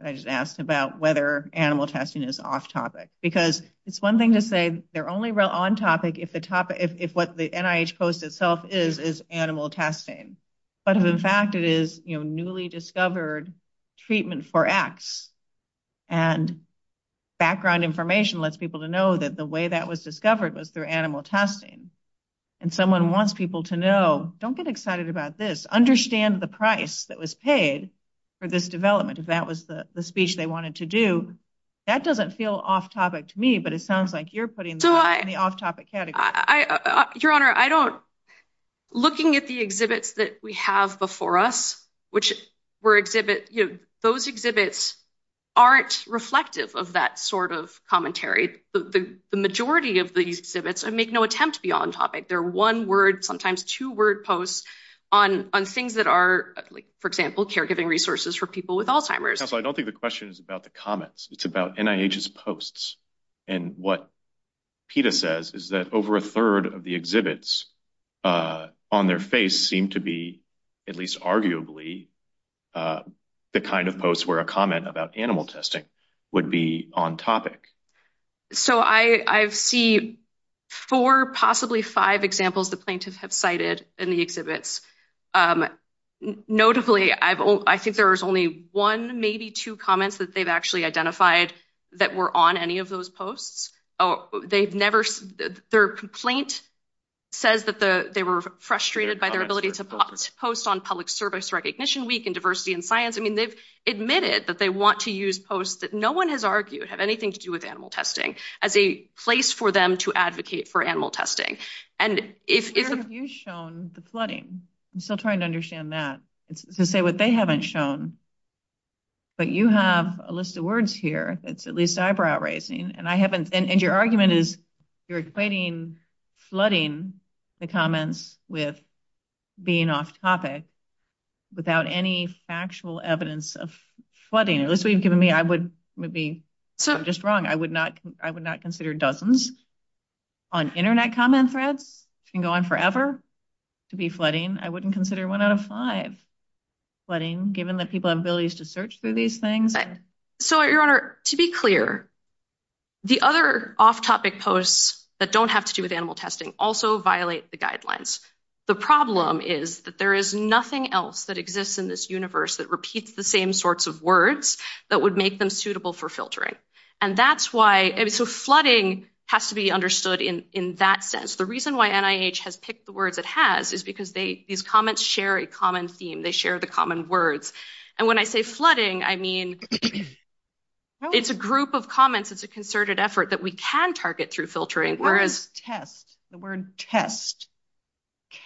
that I just asked about whether animal testing is off-topic. Because it's one thing to say they're only on-topic if what the NIH post itself is is animal testing, but if in fact it is newly discovered treatment for X, and background information lets people know that the way that was discovered was through animal testing, and someone wants people to know, don't get excited about this, understand the price that was paid for this development, if that was the speech they wanted to do, that doesn't feel off-topic to me, but it sounds like you're putting that in the off-topic category. Your Honor, looking at the exhibits that we have before us, those exhibits aren't reflective of that sort of commentary. The majority of the exhibits make no attempt to be on-topic. They're one-word, sometimes two-word posts on things that are, for example, caregiving resources for people with Alzheimer's. Counselor, I don't think the question is about the comments. It's about NIH's posts. And what PETA says is that over a third of the exhibits on their face seem to be, at least arguably, the kind of posts where a comment about animal testing would be on-topic. So I see four, possibly five, examples that plaintiffs have cited in the exhibits. Notably, I think there was only one, maybe two, comments that they've actually identified that were on any of those posts. Their complaint says that they were frustrated by their ability to post on Public Service Recognition Week and Diversity in Science. I mean, they've admitted that they want to use posts that no one has argued have anything to do with animal testing as a place for them to advocate for animal testing. Have you shown the flooding? I'm still trying to understand that. To say what they haven't shown. But you have a list of words here that's at least eyebrow-raising. And your argument is you're equating flooding, the comments, with being off-topic without any factual evidence of flooding. At least what you've given me, I would be just wrong. I would not consider dozens on Internet comment threads can go on forever to be flooding. I wouldn't consider one out of five flooding, given that people have abilities to search through these things. So, Your Honor, to be clear, the other off-topic posts that don't have to do with animal testing also violate the guidelines. The problem is that there is nothing else that exists in this universe that repeats the same sorts of words that would make them suitable for filtering. So flooding has to be understood in that sense. The reason why NIH has picked the word that has is because these comments share a common theme. They share the common words. And when I say flooding, I mean it's a group of comments. It's a concerted effort that we can target through filtering. The word test.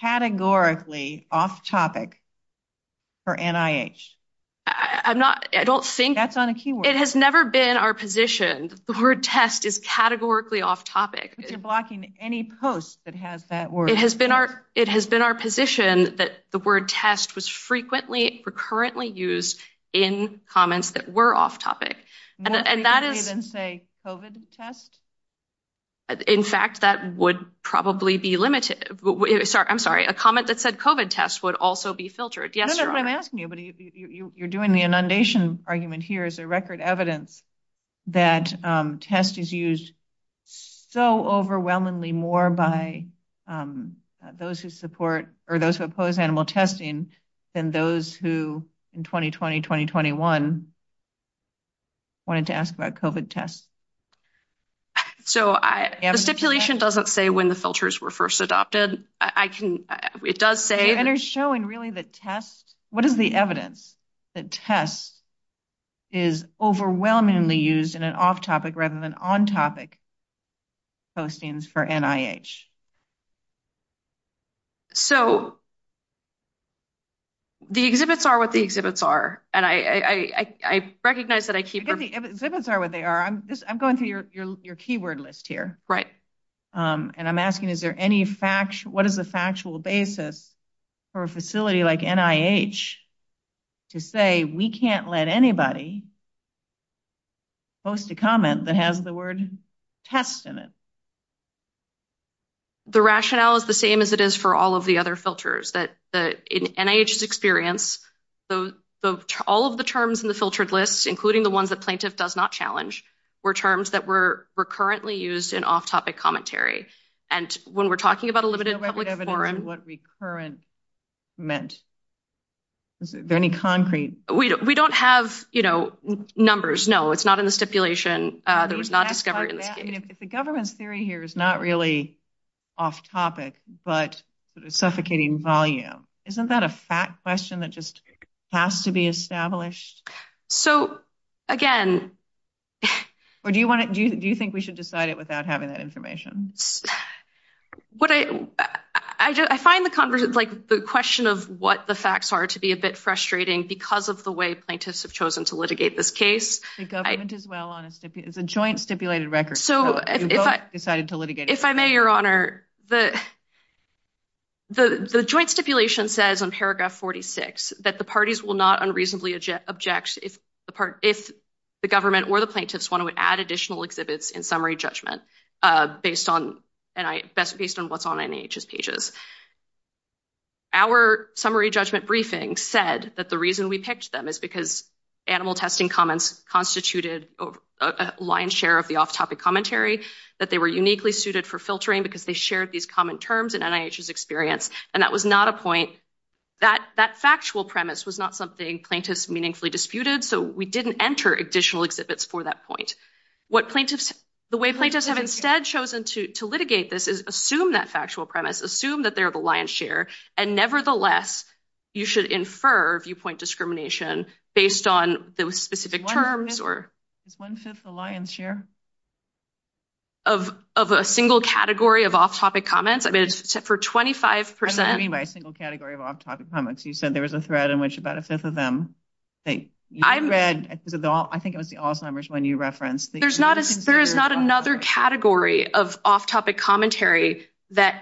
Categorically off-topic for NIH. That's not a keyword. It has never been our position. The word test is categorically off-topic. You're blocking any post that has that word. It has been our position that the word test was frequently, recurrently used in comments that were off-topic. And that is... More recently than say COVID test? In fact, that would probably be limited. I'm sorry. A comment that said COVID test would also be filtered. Yes, Your Honor. I don't know what I'm asking you, but you're doing the inundation argument here as a record evidence that test is used so overwhelmingly more by those who support or those who oppose animal testing than those who in 2020, 2021 wanted to ask about COVID test. So the stipulation doesn't say when the filters were first adopted. It does say... And it's showing really the test. What is the evidence that test is overwhelmingly used in an off-topic rather than on-topic postings for NIH? So the exhibits are what the exhibits are. And I recognize that I keep... The exhibits are what they are. I'm going through your keyword list here. Right. And I'm asking is there any factual... What is the factual basis for a facility like NIH to say we can't let anybody post a comment that has the word test in it? The rationale is the same as it is for all of the other filters. In NIH's experience, all of the terms in the filtered lists, including the ones that plaintiff does not challenge, were terms that were recurrently used in off-topic commentary. And when we're talking about a limited public forum... What recurrent meant? Is there any concrete... We don't have numbers. No, it's not in the stipulation. If the government's theory here is not really off-topic but suffocating volume, isn't that a fact question that just has to be established? So, again... Or do you think we should decide it without having that information? I find the question of what the facts are to be a bit frustrating because of the way plaintiffs have chosen to litigate this case. The joint stipulation says on paragraph 46 that the parties will not unreasonably object if the government or the plaintiffs want to add additional exhibits in summary judgment based on what's on NIH's pages. Our summary judgment briefing said that the reason we picked them is because animal testing comments constituted a lion's share of the off-topic commentary, that they were uniquely suited for filtering because they shared these common terms in NIH's experience. And that was not a point... That factual premise was not something plaintiffs meaningfully disputed, so we didn't enter additional exhibits for that point. The way plaintiffs have instead chosen to litigate this is assume that factual premise, assume that they're the lion's share, and nevertheless, you should infer viewpoint discrimination based on those specific terms or... Is one-fifth the lion's share? Of a single category of off-topic comments? I mean, for 25%... What do you mean by a single category of off-topic comments? You said there was a thread in which about a fifth of them... I think it was the off numbers when you referenced... There is not another category of off-topic commentary that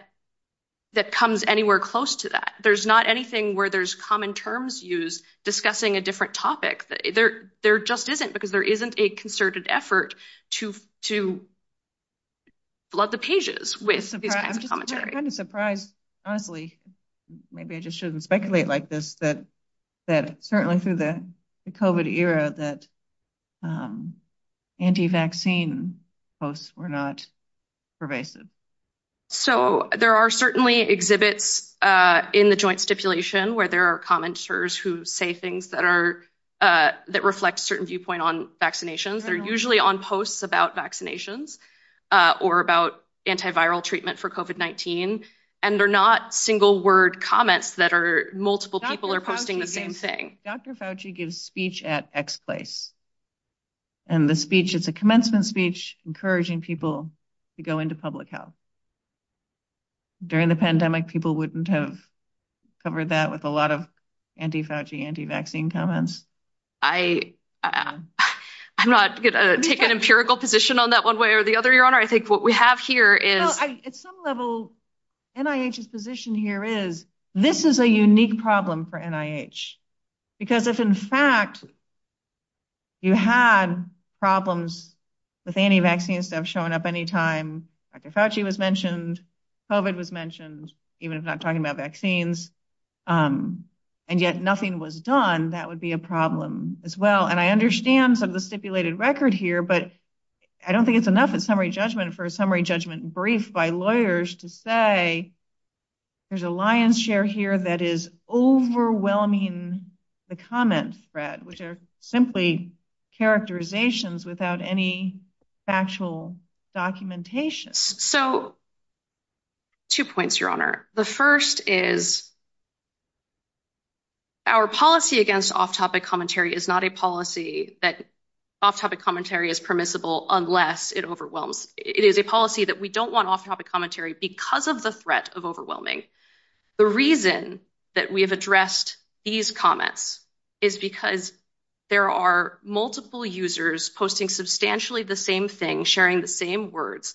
comes anywhere close to that. There's not anything where there's common terms used discussing a different topic. There just isn't because there isn't a concerted effort to flood the pages with commentary. I'm kind of surprised, honestly, maybe I just shouldn't speculate like this, that certainly through the COVID era that anti-vaccine posts were not pervasive. So, there are certainly exhibits in the joint stipulation where there are commenters who say things that reflect a certain viewpoint on vaccinations. They're usually on posts about vaccinations or about antiviral treatment for COVID-19. And they're not single-word comments that are multiple people are posting the same thing. Dr. Fauci gives speech at X place. And the speech is a commencement speech encouraging people to go into public health. During the pandemic, people wouldn't have covered that with a lot of anti-Fauci, anti-vaccine comments. I'm not going to take an empirical position on that one way or the other, Your Honor. I think what we have here is... At some level, NIH's position here is this is a unique problem for NIH. Because if, in fact, you had problems with anti-vaccine stuff showing up anytime Dr. Fauci was mentioned, COVID was mentioned, even if not talking about vaccines, and yet nothing was done, that would be a problem as well. And I understand some of the stipulated record here, but I don't think it's enough in summary judgment for a summary judgment brief by lawyers to say, there's a lion's share here that is overwhelming the comment spread, which are simply characterizations without any factual documentation. So, two points, Your Honor. The first is our policy against off-topic commentary is not a policy that off-topic commentary is permissible unless it overwhelms. It is a policy that we don't want off-topic commentary because of the threat of overwhelming. The reason that we have addressed these comments is because there are multiple users posting substantially the same thing, sharing the same words,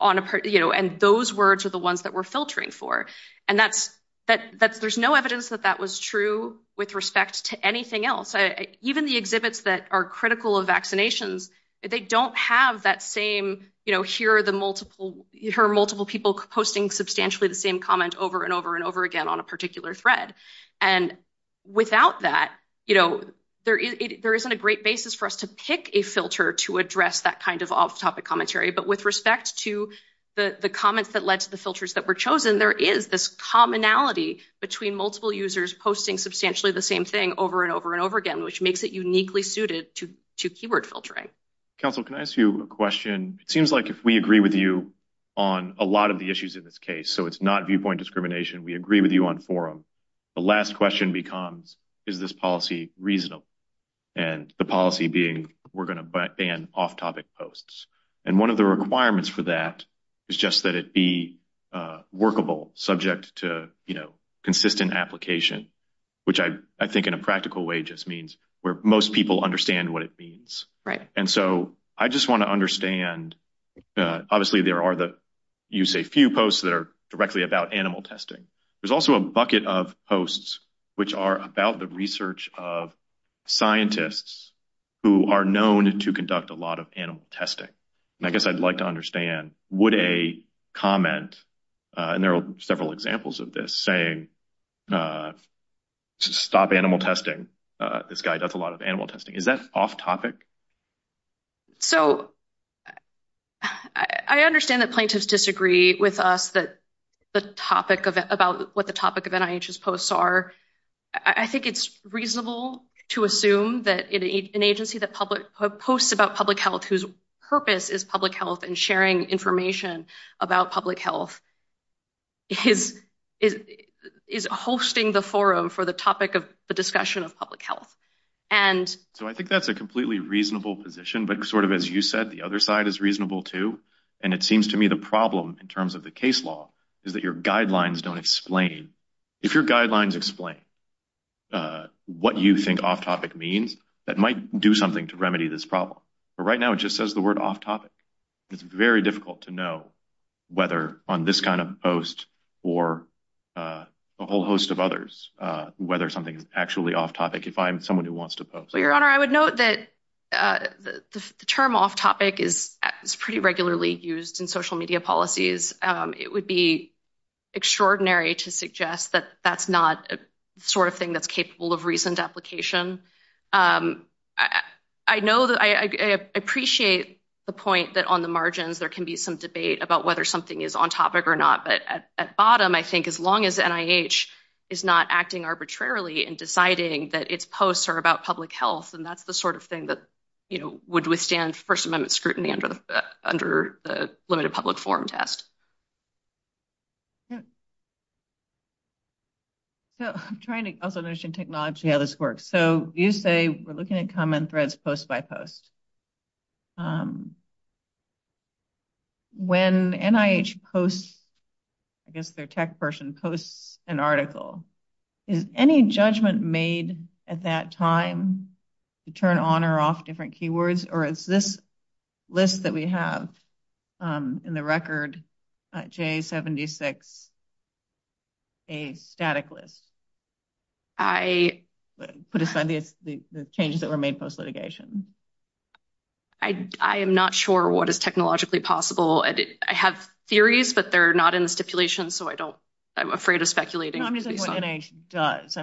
and those words are the ones that we're filtering for. And there's no evidence that that was true with respect to anything else. Even the exhibits that are critical of vaccinations, they don't have that same, you know, here are multiple people posting substantially the same comment over and over and over again on a particular thread. And without that, you know, there isn't a great basis for us to pick a filter to address that kind of off-topic commentary. But with respect to the comments that led to the filters that were chosen, there is this commonality between multiple users posting substantially the same thing over and over and over again, which makes it uniquely suited to keyword filtering. Counsel, can I ask you a question? It seems like if we agree with you on a lot of the issues in this case, so it's not viewpoint discrimination, we agree with you on forum. The last question becomes, is this policy reasonable? And the policy being, we're going to ban off-topic posts. And one of the requirements for that is just that it be workable, subject to, you know, consistent application, which I think in a practical way just means where most people understand what it means. And so I just want to understand, obviously, there are the, you say, few posts that are directly about animal testing. There's also a bucket of posts which are about the research of scientists who are known to conduct a lot of animal testing. And I guess I'd like to understand, would a comment, and there are several examples of this, saying stop animal testing. This guy does a lot of animal testing. Is that off-topic? So I understand that plaintiffs disagree with us about what the topic of NIH's posts are. I think it's reasonable to assume that an agency that posts about public health whose purpose is public health and sharing information about public health is hosting the forum for the topic of the discussion of public health. So I think that's a completely reasonable position, but sort of as you said, the other side is reasonable, too. And it seems to me the problem in terms of the case law is that your guidelines don't explain. If your guidelines explain what you think off-topic means, that might do something to remedy this problem. But right now it just says the word off-topic. It's very difficult to know whether on this kind of post or a whole host of others whether something is actually off-topic if I'm someone who wants to post. Your Honor, I would note that the term off-topic is pretty regularly used in social media policies. It would be extraordinary to suggest that that's not the sort of thing that's capable of reasoned application. I appreciate the point that on the margins there can be some debate about whether something is on-topic or not. But at bottom, I think as long as NIH is not acting arbitrarily and deciding that its posts are about public health, then that's the sort of thing that would withstand First Amendment scrutiny under the limited public forum test. I'm trying to up-the-mission technology how this works. So you say we're looking at comment threads post by post. When NIH posts, I guess their tech person posts an article, is any judgment made at that time to turn on or off different keywords? Or is this list that we have in the record, J76, a static list? Put aside the changes that were made post-litigation. I am not sure what is technologically possible. I have theories, but they're not in the stipulation, so I'm afraid of speculating. Tell me what NIH does.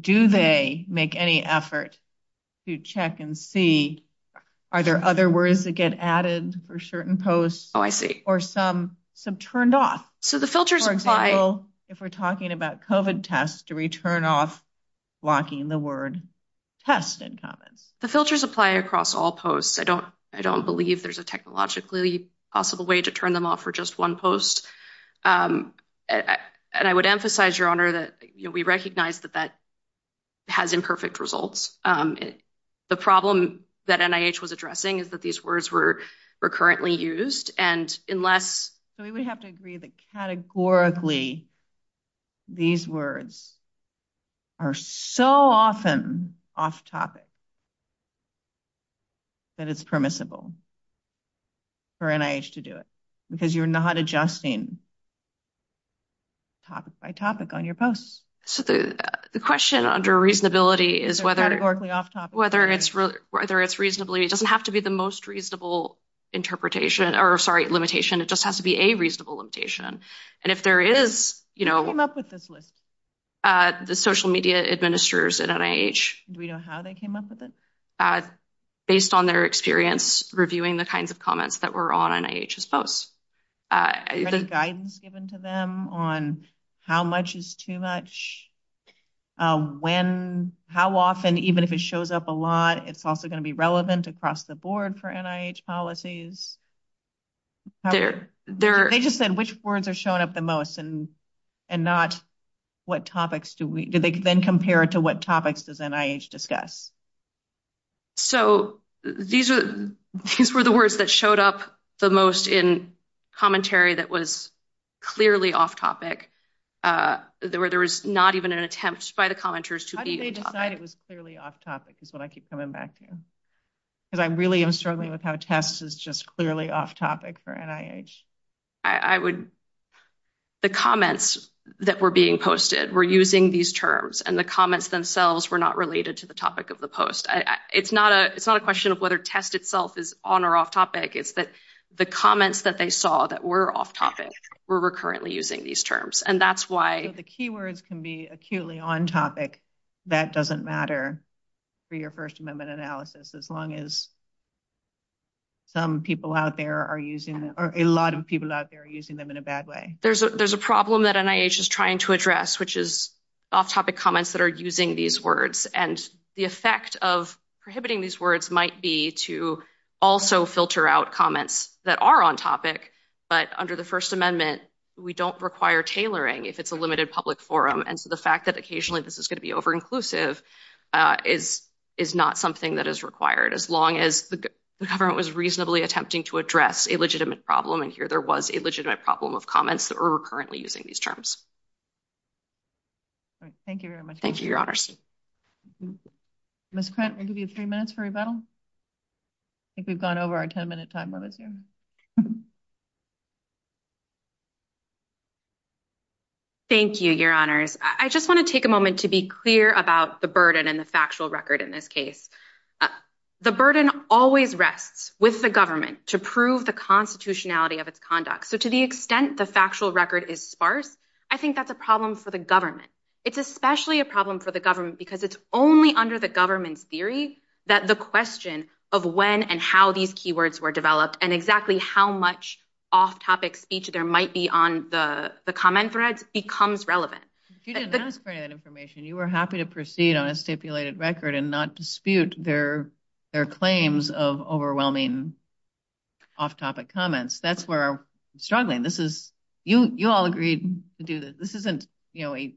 Do they make any effort to check and see are there other words that get added for certain posts or some turned off? For example, if we're talking about COVID tests, to return off blocking the word test in common. The filters apply across all posts. I don't believe there's a technologically possible way to turn them off for just one post. And I would emphasize, Your Honor, that we recognize that that has imperfect results. The problem that NIH was addressing is that these words were recurrently used. We would have to agree that categorically these words are so often off-topic that it's permissible for NIH to do it. Because you're not adjusting topic by topic on your posts. The question under reasonability is whether it's reasonably. It doesn't have to be the most reasonable interpretation or, sorry, limitation. It just has to be a reasonable limitation. And if there is, you know. Who came up with this list? The social media administrators at NIH. Do we know how they came up with it? Based on their experience reviewing the kinds of comments that were on NIH's posts. Is there guidance given to them on how much is too much? When, how often, even if it shows up a lot, it's also going to be relevant across the board for NIH policies? They just said which words are showing up the most and not what topics. Do they then compare to what topics does NIH discuss? So these were the words that showed up the most in commentary that was clearly off-topic. There was not even an attempt by the commenters to be off-topic. How did they decide it was clearly off-topic is what I keep coming back to. Because I really am struggling with how test is just clearly off-topic for NIH. I would, the comments that were being posted were using these terms. And the comments themselves were not related to the topic of the post. It's not a question of whether test itself is on or off-topic. It's that the comments that they saw that were off-topic were recurrently using these terms. And that's why... If the keywords can be acutely on-topic, that doesn't matter for your First Amendment analysis. As long as some people out there are using, or a lot of people out there are using them in a bad way. There's a problem that NIH is trying to address, which is off-topic comments that are using these words. And the effect of prohibiting these words might be to also filter out comments that are on-topic. But under the First Amendment, we don't require tailoring if it's a limited public forum. And the fact that occasionally this is going to be over-inclusive is not something that is required. As long as the government was reasonably attempting to address a legitimate problem. And here there was a legitimate problem of comments that were recurrently using these terms. Thank you very much. Thank you, Your Honors. Ms. Krantz, we'll give you three minutes for rebuttal. I think we've gone over our ten-minute time limit here. Thank you, Your Honors. I just want to take a moment to be clear about the burden and the factual record in this case. The burden always rests with the government to prove the constitutionality of its conduct. So to the extent the factual record is sparse, I think that's a problem for the government. It's especially a problem for the government because it's only under the government's theories that the question of when and how these keywords were developed and exactly how much off-topic speech there might be on the comment threads becomes relevant. If you didn't ask for that information, you were happy to proceed on a stipulated record and not dispute their claims of overwhelming off-topic comments. That's where we're struggling. You all agreed to do this. This isn't, you know, a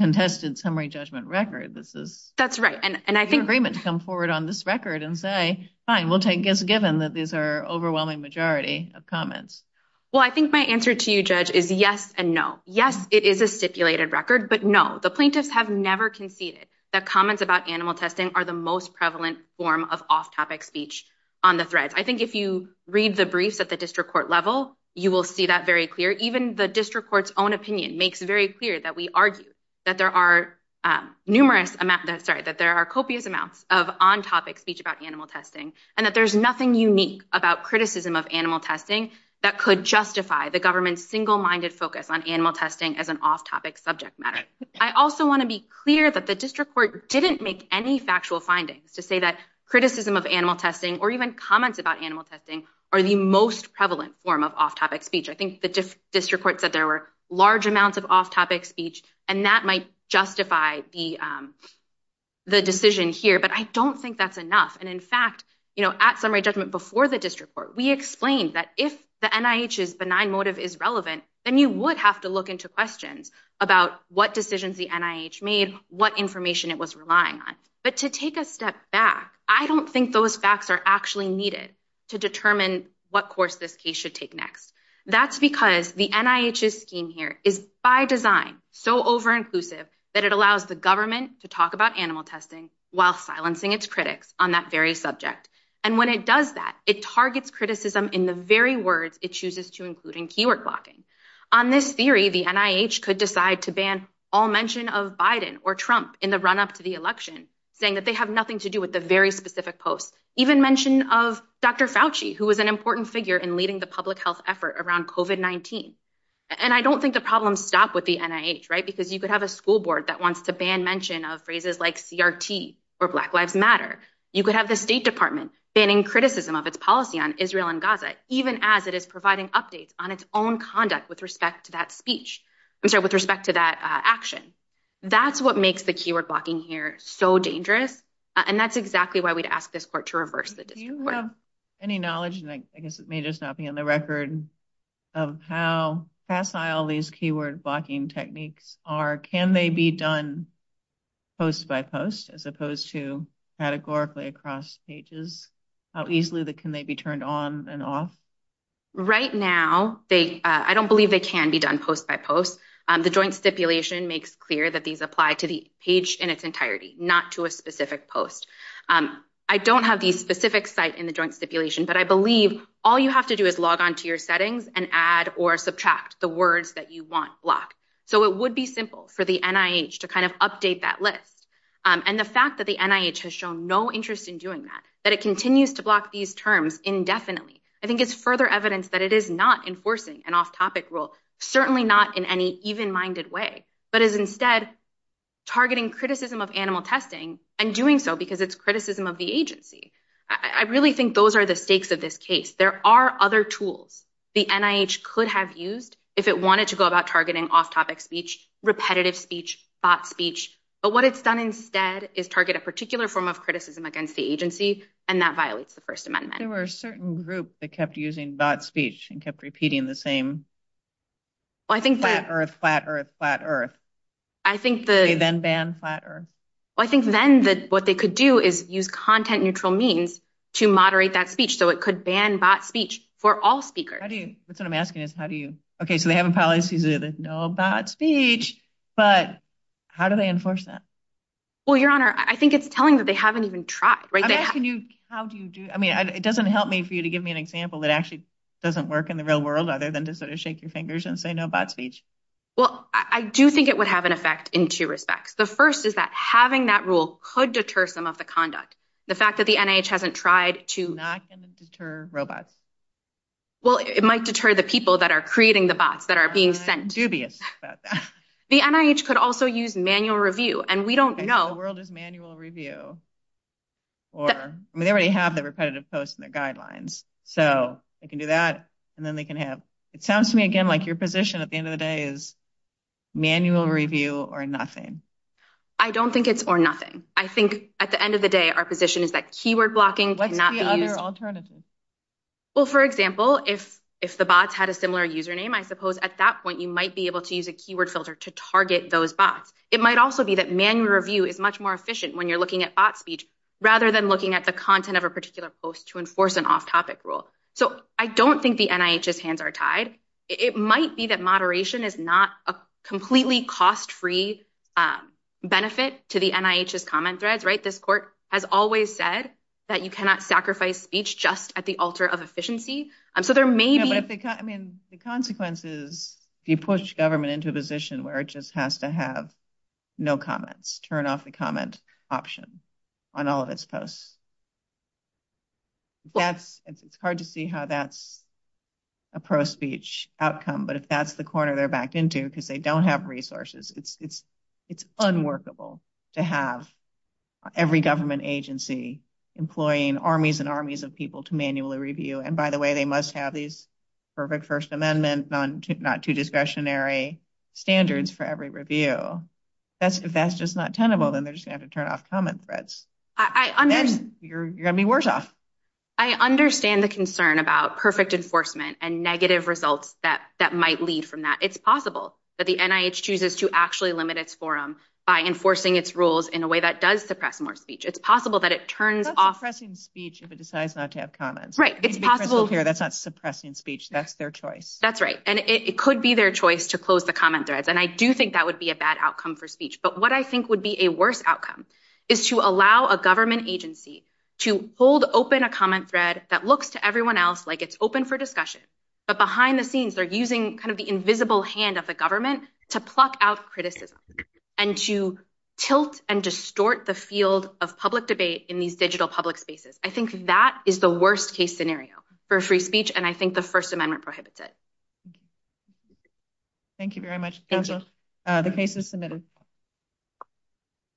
contested summary judgment record. That's right. And I think... Your agreement to come forward on this record and say, fine, we'll take this given that these are overwhelming majority of comments. Well, I think my answer to you, Judge, is yes and no. Yes, it is a stipulated record, but no, the plaintiffs have never conceded that comments about animal testing are the most prevalent form of off-topic speech on the threads. I think if you read the brief at the district court level, you will see that very clear. Even the district court's own opinion makes very clear that we argue that there are numerous amounts... Sorry, that there are copious amounts of on-topic speech about animal testing and that there's nothing unique about criticism of animal testing that could justify the government's single-minded focus on animal testing as an off-topic subject matter. I also want to be clear that the district court didn't make any factual findings to say that criticism of animal testing or even comments about animal testing are the most prevalent form of off-topic speech. I think the district court said there were large amounts of off-topic speech and that might justify the decision here, but I don't think that's enough. And in fact, at summary judgment before the district court, we explained that if the NIH's benign motive is relevant, then you would have to look into questions about what decisions the NIH made, what information it was relying on. But to take a step back, I don't think those facts are actually needed to determine what course this case should take next. That's because the NIH's scheme here is by design so over-inclusive that it allows the government to talk about animal testing while silencing its critics on that very subject. And when it does that, it targets criticism in the very words it chooses to include in keyword blocking. On this theory, the NIH could decide to ban all mention of Biden or Trump in the run-up to the election, saying that they have nothing to do with the very specific posts. Even mention of Dr. Fauci, who was an important figure in leading the public health effort around COVID-19. And I don't think the problem stopped with the NIH, right? Because you could have a school board that wants to ban mention of phrases like CRT or Black Lives Matter. You could have the State Department banning criticism of its policy on Israel and Gaza, even as it is providing updates on its own conduct with respect to that speech, with respect to that action. That's what makes the keyword blocking here so dangerous, and that's exactly why we'd ask this court to reverse the discourse. Do you have any knowledge, and I guess it may just not be on the record, of how facile these keyword blocking techniques are? Can they be done post by post as opposed to categorically across pages? How easily can they be turned on and off? Right now, I don't believe they can be done post by post. The joint stipulation makes clear that these apply to the page in its entirety, not to a specific post. I don't have the specific site in the joint stipulation, but I believe all you have to do is log on to your settings and add or subtract the words that you want blocked. So it would be simple for the NIH to kind of update that list. And the fact that the NIH has shown no interest in doing that, that it continues to block these terms indefinitely, I think it's further evidence that it is not enforcing an off-topic rule, certainly not in any even-minded way, but is instead targeting criticism of animal testing and doing so because it's criticism of the agency. I really think those are the stakes of this case. There are other tools the NIH could have used if it wanted to go about targeting off-topic speech, repetitive speech, bot speech. But what it's done instead is target a particular form of criticism against the agency, and that violates the First Amendment. There were a certain group that kept using bot speech and kept repeating the same flat Earth, flat Earth, flat Earth. They then banned flat Earth. I think then what they could do is use content-neutral means to moderate that speech, so it could ban bot speech for all speakers. That's what I'm asking is how do you – okay, so they have a policy that there's no bot speech, but how do they enforce that? Well, Your Honor, I think it's telling that they haven't even – I'm asking you how do you do – I mean, it doesn't help me for you to give me an example that actually doesn't work in the real world other than to sort of shake your fingers and say no bot speech. Well, I do think it would have an effect in two respects. The first is that having that rule could deter some of the conduct. The fact that the NIH hasn't tried to – Not going to deter robots. Well, it might deter the people that are creating the bots that are being sent to – I'm not dubious about that. The NIH could also use manual review, and we don't know – Because the world is manual review. I mean, they already have the repetitive post and the guidelines. So they can do that, and then they can have – It sounds to me, again, like your position at the end of the day is manual review or nothing. I don't think it's or nothing. I think at the end of the day, our position is that keyword blocking cannot be used. What's the other alternative? Well, for example, if the bots had a similar username, I suppose at that point you might be able to use a keyword filter to target those bots. It might also be that manual review is much more efficient when you're looking at bot speech rather than looking at the content of a particular post to enforce an off-topic rule. So I don't think the NIH's hands are tied. It might be that moderation is not a completely cost-free benefit to the NIH's comment threads. This court has always said that you cannot sacrifice speech just at the altar of efficiency. So there may be – Yeah, but the consequence is if you push government into a position where it just has to have no comments, turn off the comment option on all of its posts. It's hard to see how that's a pro-speech outcome, but if that's the corner they're backed into because they don't have resources, it's unworkable to have every government agency employing armies and armies of people to manually review. And by the way, they must have these perfect First Amendment, not too discretionary standards for every review. If that's just not tenable, then they're just going to have to turn off comment threads. You're going to be worse off. I understand the concern about perfect enforcement and negative results that might lead from that. It's possible that the NIH chooses to actually limit its forum by enforcing its rules in a way that does suppress more speech. It's possible that it turns off – That's suppressing speech if it decides not to have comments. Right, it's possible – That's not suppressing speech. That's their choice. That's right, and it could be their choice to close the comment threads, and I do think that would be a bad outcome for speech. But what I think would be a worse outcome is to allow a government agency to hold open a comment thread that looks to everyone else like it's open for discussion, but behind the scenes they're using kind of the invisible hand of the government to pluck out criticism and to tilt and distort the field of public debate in these digital public spaces. I think that is the worst case scenario for free speech, and I think the First Amendment prohibits it. Thank you very much. Thank you. The case is submitted.